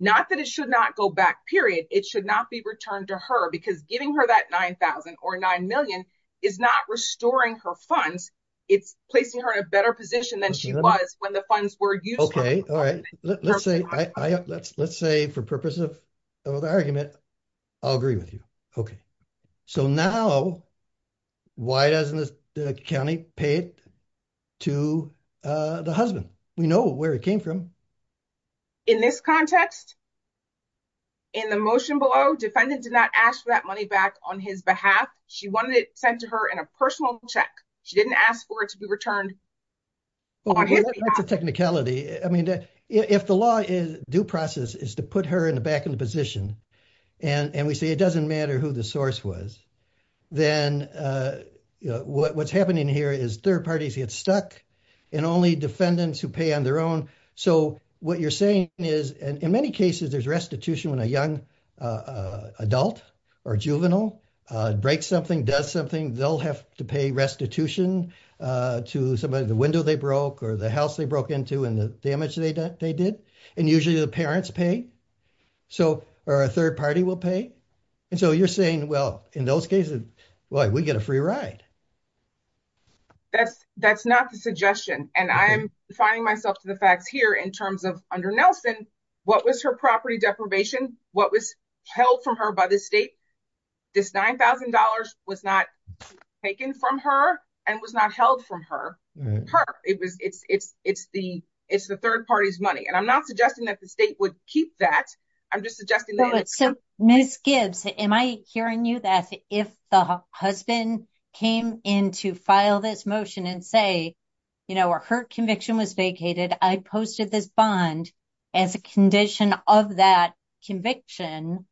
Not that it should not go back, period. It should not be returned to her because giving her that $9,000 or $9 million is not restoring her funds. It's placing her in a better position than she was when the funds were used. Okay. All right. Let's say for purposes of argument, I'll agree with you. So now, why doesn't the county pay it to the husband? We know where it came from. In this context, in the motion below, defendant did not ask for that money back on his behalf. She wanted it sent to her in a personal check. She didn't ask for it to be returned. Well, that's a technicality. I mean, if the law is due process is to put her in the back of the position and we say it doesn't matter who the source was, then what's happening here is third parties get stuck and only defendants who pay on their own. So what you're saying is, in many cases, there's restitution when a young adult or juvenile breaks something, does something, they'll have to pay restitution to somebody, the window they broke or the house they broke into and the damage they did. And usually the parents pay or a third party will pay. And so you're saying, well, in those cases, we get a free ride. That's not the suggestion. And I'm finding myself to the fact here in terms of under Nelson, what was her property deprivation? What was held from her by the state? This $9,000 was not taken from her and was not held from her. It's the third party's money. And I'm not suggesting that the state would keep that. I'm just suggesting that- So Ms. Gibbs, am I hearing you that if the husband came in to file this motion and say, her conviction was vacated, I posted this bond as a condition of that conviction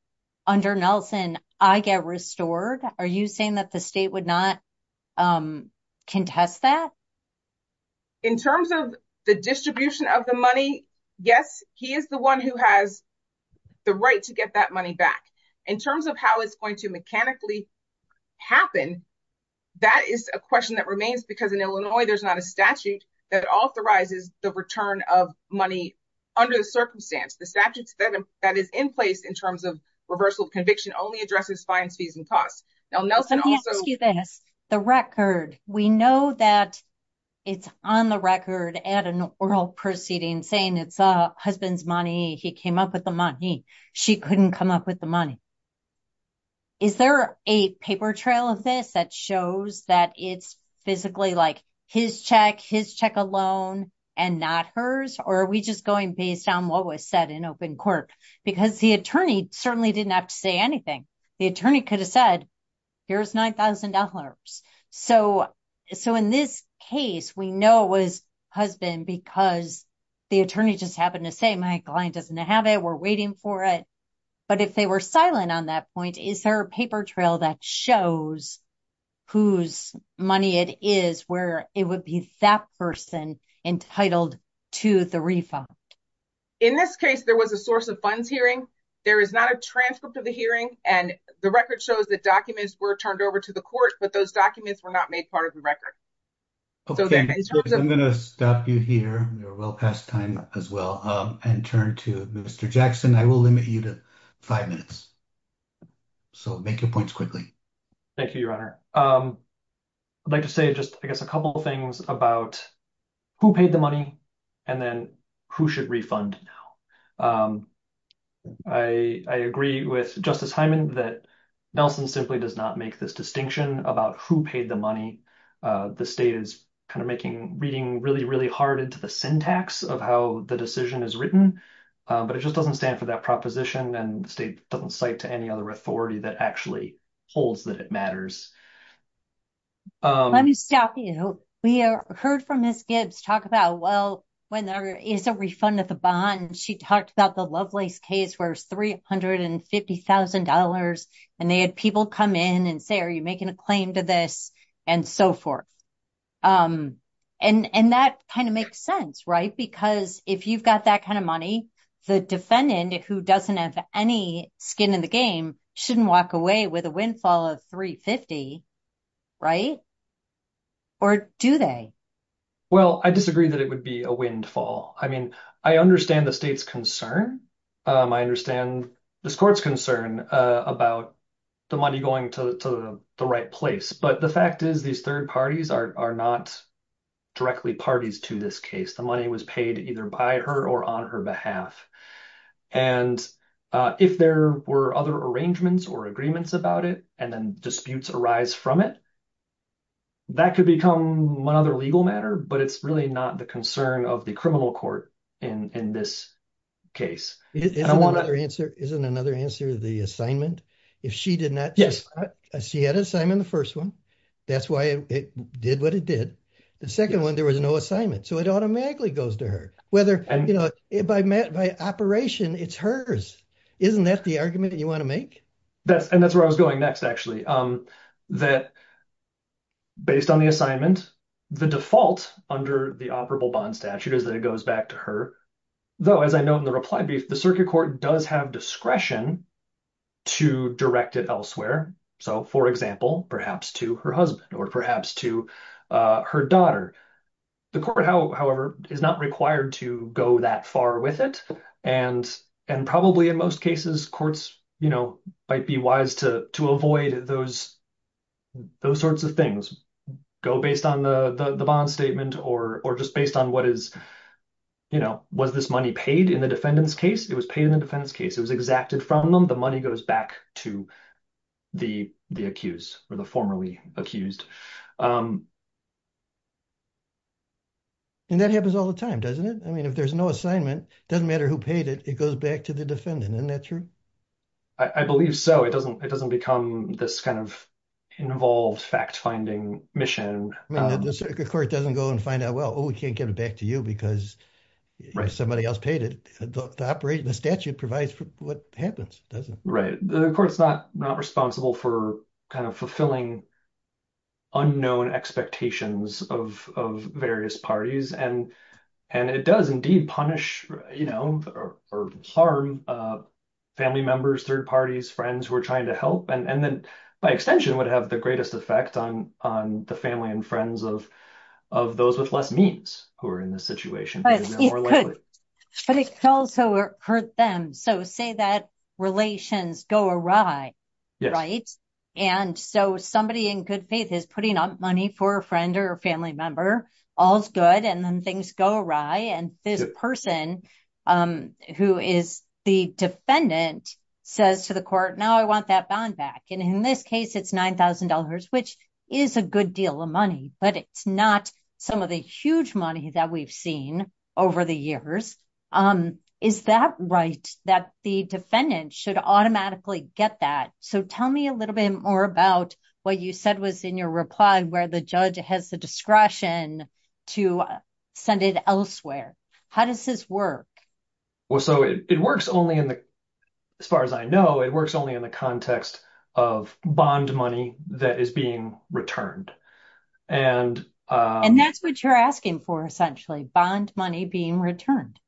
under Nelson, I get restored? Are you saying that the state would not contest that? In terms of the distribution of the money, yes. He is the one who has the right to get that money back. In terms of how it's going to mechanically happen, that is a question that remains because in Illinois, there's not a statute that authorizes the return of money under the circumstance. The statute that is in place in terms of reversal of conviction only addresses fines, fees, and costs. Now, Nelson also- Let me ask you this. The record. We know that it's on the record at an oral proceeding saying it's the husband's money. He came up with the money. She couldn't come up with the money. Is there a paper trail of this that shows that it's physically like his check, his check alone, and not hers? Or are we just going based on what was said in open court? Because the attorney certainly didn't have to say anything. The attorney could have said, here's $9,000. So in this case, we know it was husband because the attorney just happened to say, my client doesn't have it. We're waiting for it. But if they were silent on that point, is there a paper trail that shows whose money it is where it would be that person entitled to the refund? In this case, there was a source of funds hearing. There is not a transcript of the hearing. And the record shows that documents were turned over to the court, but those documents were not made part of the record. Okay, I'm going to stop you here. We're well past time as well. And turn to Mr. Jackson. I will limit you to five minutes. So make your points quickly. Thank you, Your Honor. I'd like to say just, I guess, a couple of things about who paid the money and then who should refund now. I agree with Justice Hyman that Nelson simply does not make this distinction about who paid the money. The state is kind of making, reading really, really hard into the syntax of how the decision is written. But it just doesn't stand for that proposition. And the state doesn't cite to any other authority that actually holds that it matters. Let me stop you. We heard from Ms. Gibbs talk about, well, when there is a refund of the bond, she talks about the Lovelace case where it's $350,000. And they had people come in and say, are you making a claim to this? And so forth. And that kind of makes sense, right? Because if you've got that kind of money, the defendant, who doesn't have any skin in the game, shouldn't walk away with a windfall of $350,000, right? Or do they? Well, I disagree that it would be a windfall. I mean, I understand the state's concern. I understand this court's concern about the money going to the right place. But the fact is, these third parties are not directly parties to this case. The money was paid either by her or on her behalf. And if there were other arrangements or agreements about it and then disputes arise from it, that could become another legal matter. But it's really not the concern of the criminal court in this case. And I want to- Isn't another answer the assignment? If she did not- Yes. She had an assignment in the first one. That's why it did what it did. The second one, there was no assignment. So it automatically goes to her. Whether, you know, by operation, it's hers. Isn't that the argument that you want to make? And that's where I was going next, actually. That based on the assignments, the default under the operable bond statute is that it goes back to her. Though, as I know in the reply, the circuit court does have discretion to direct it elsewhere. So, for example, perhaps to her husband or perhaps to her daughter. The court, however, is not required to go that far with it. And probably in most cases, courts might be wise to avoid those sorts of things. Go based on the bond statement or just based on what is, you know, was this money paid in the defendant's case? It was paid in the defendant's case. It was exacted from them. The money goes back to the accused or the formerly accused. And that happens all the time, doesn't it? I mean, if there's no assignment, it doesn't matter who paid it. It goes back to the defendant. Isn't that true? I believe so. It doesn't become this kind of involved fact finding mission. The circuit court doesn't go and find out, well, we can't give it back to you because somebody else paid it. The statute provides for what happens. Right. The court's not responsible for kind of fulfilling unknown expectations of various parties. And it does indeed punish, you know, or harm family members, third parties, friends who are trying to help. And then by extension, it would have the greatest effect on the family and friends of those with less means who are in this situation. But it could also hurt them. So say that relations go awry, right? And so somebody in good faith is putting up money for a friend or a family member. All's good. And then things go awry. And the person who is the defendant says to the court, now I want that bond back. And in this case, it's $9,000, which is a good deal of money, but it's not some of the huge money that we've seen over the years. Is that right? That the defendant should automatically get that? So tell me a little bit more about what you said was in your reply, where the judge has the discretion to send it elsewhere. How does this work? Well, so it works only in the, as far as I know, it works only in the context of bond money that is being returned. And that's what you're asking for, essentially, bond money being returned.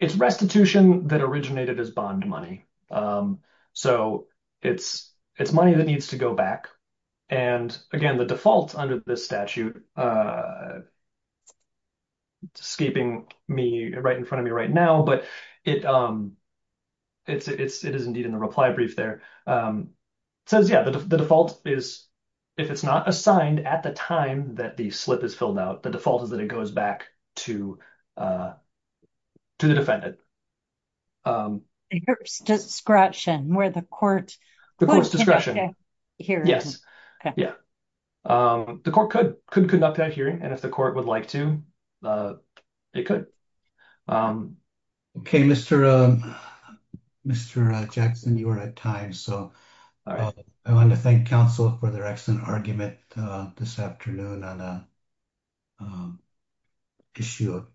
It's restitution that originated as bond money. So it's money that needs to go back. And again, the default under this statute, skipping me right in front of me right now, but it is indeed in the reply brief there, says, yeah, the default is, if it's not assigned at the time that the slip is filled out, the default is that it goes back to the defendant. The court's discretion, where the court... The court's discretion, yes. The court could conduct that hearing, and if the court would like to, it could. Okay, Mr. Jackson, you are on time. So I want to thank counsel for their excellent argument this afternoon on the issue of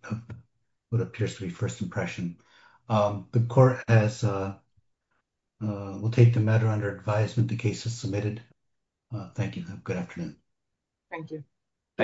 what appears to be first impression. The court will take the matter under advisement. The case is submitted. Thank you. Good afternoon. Thank you. Thank you.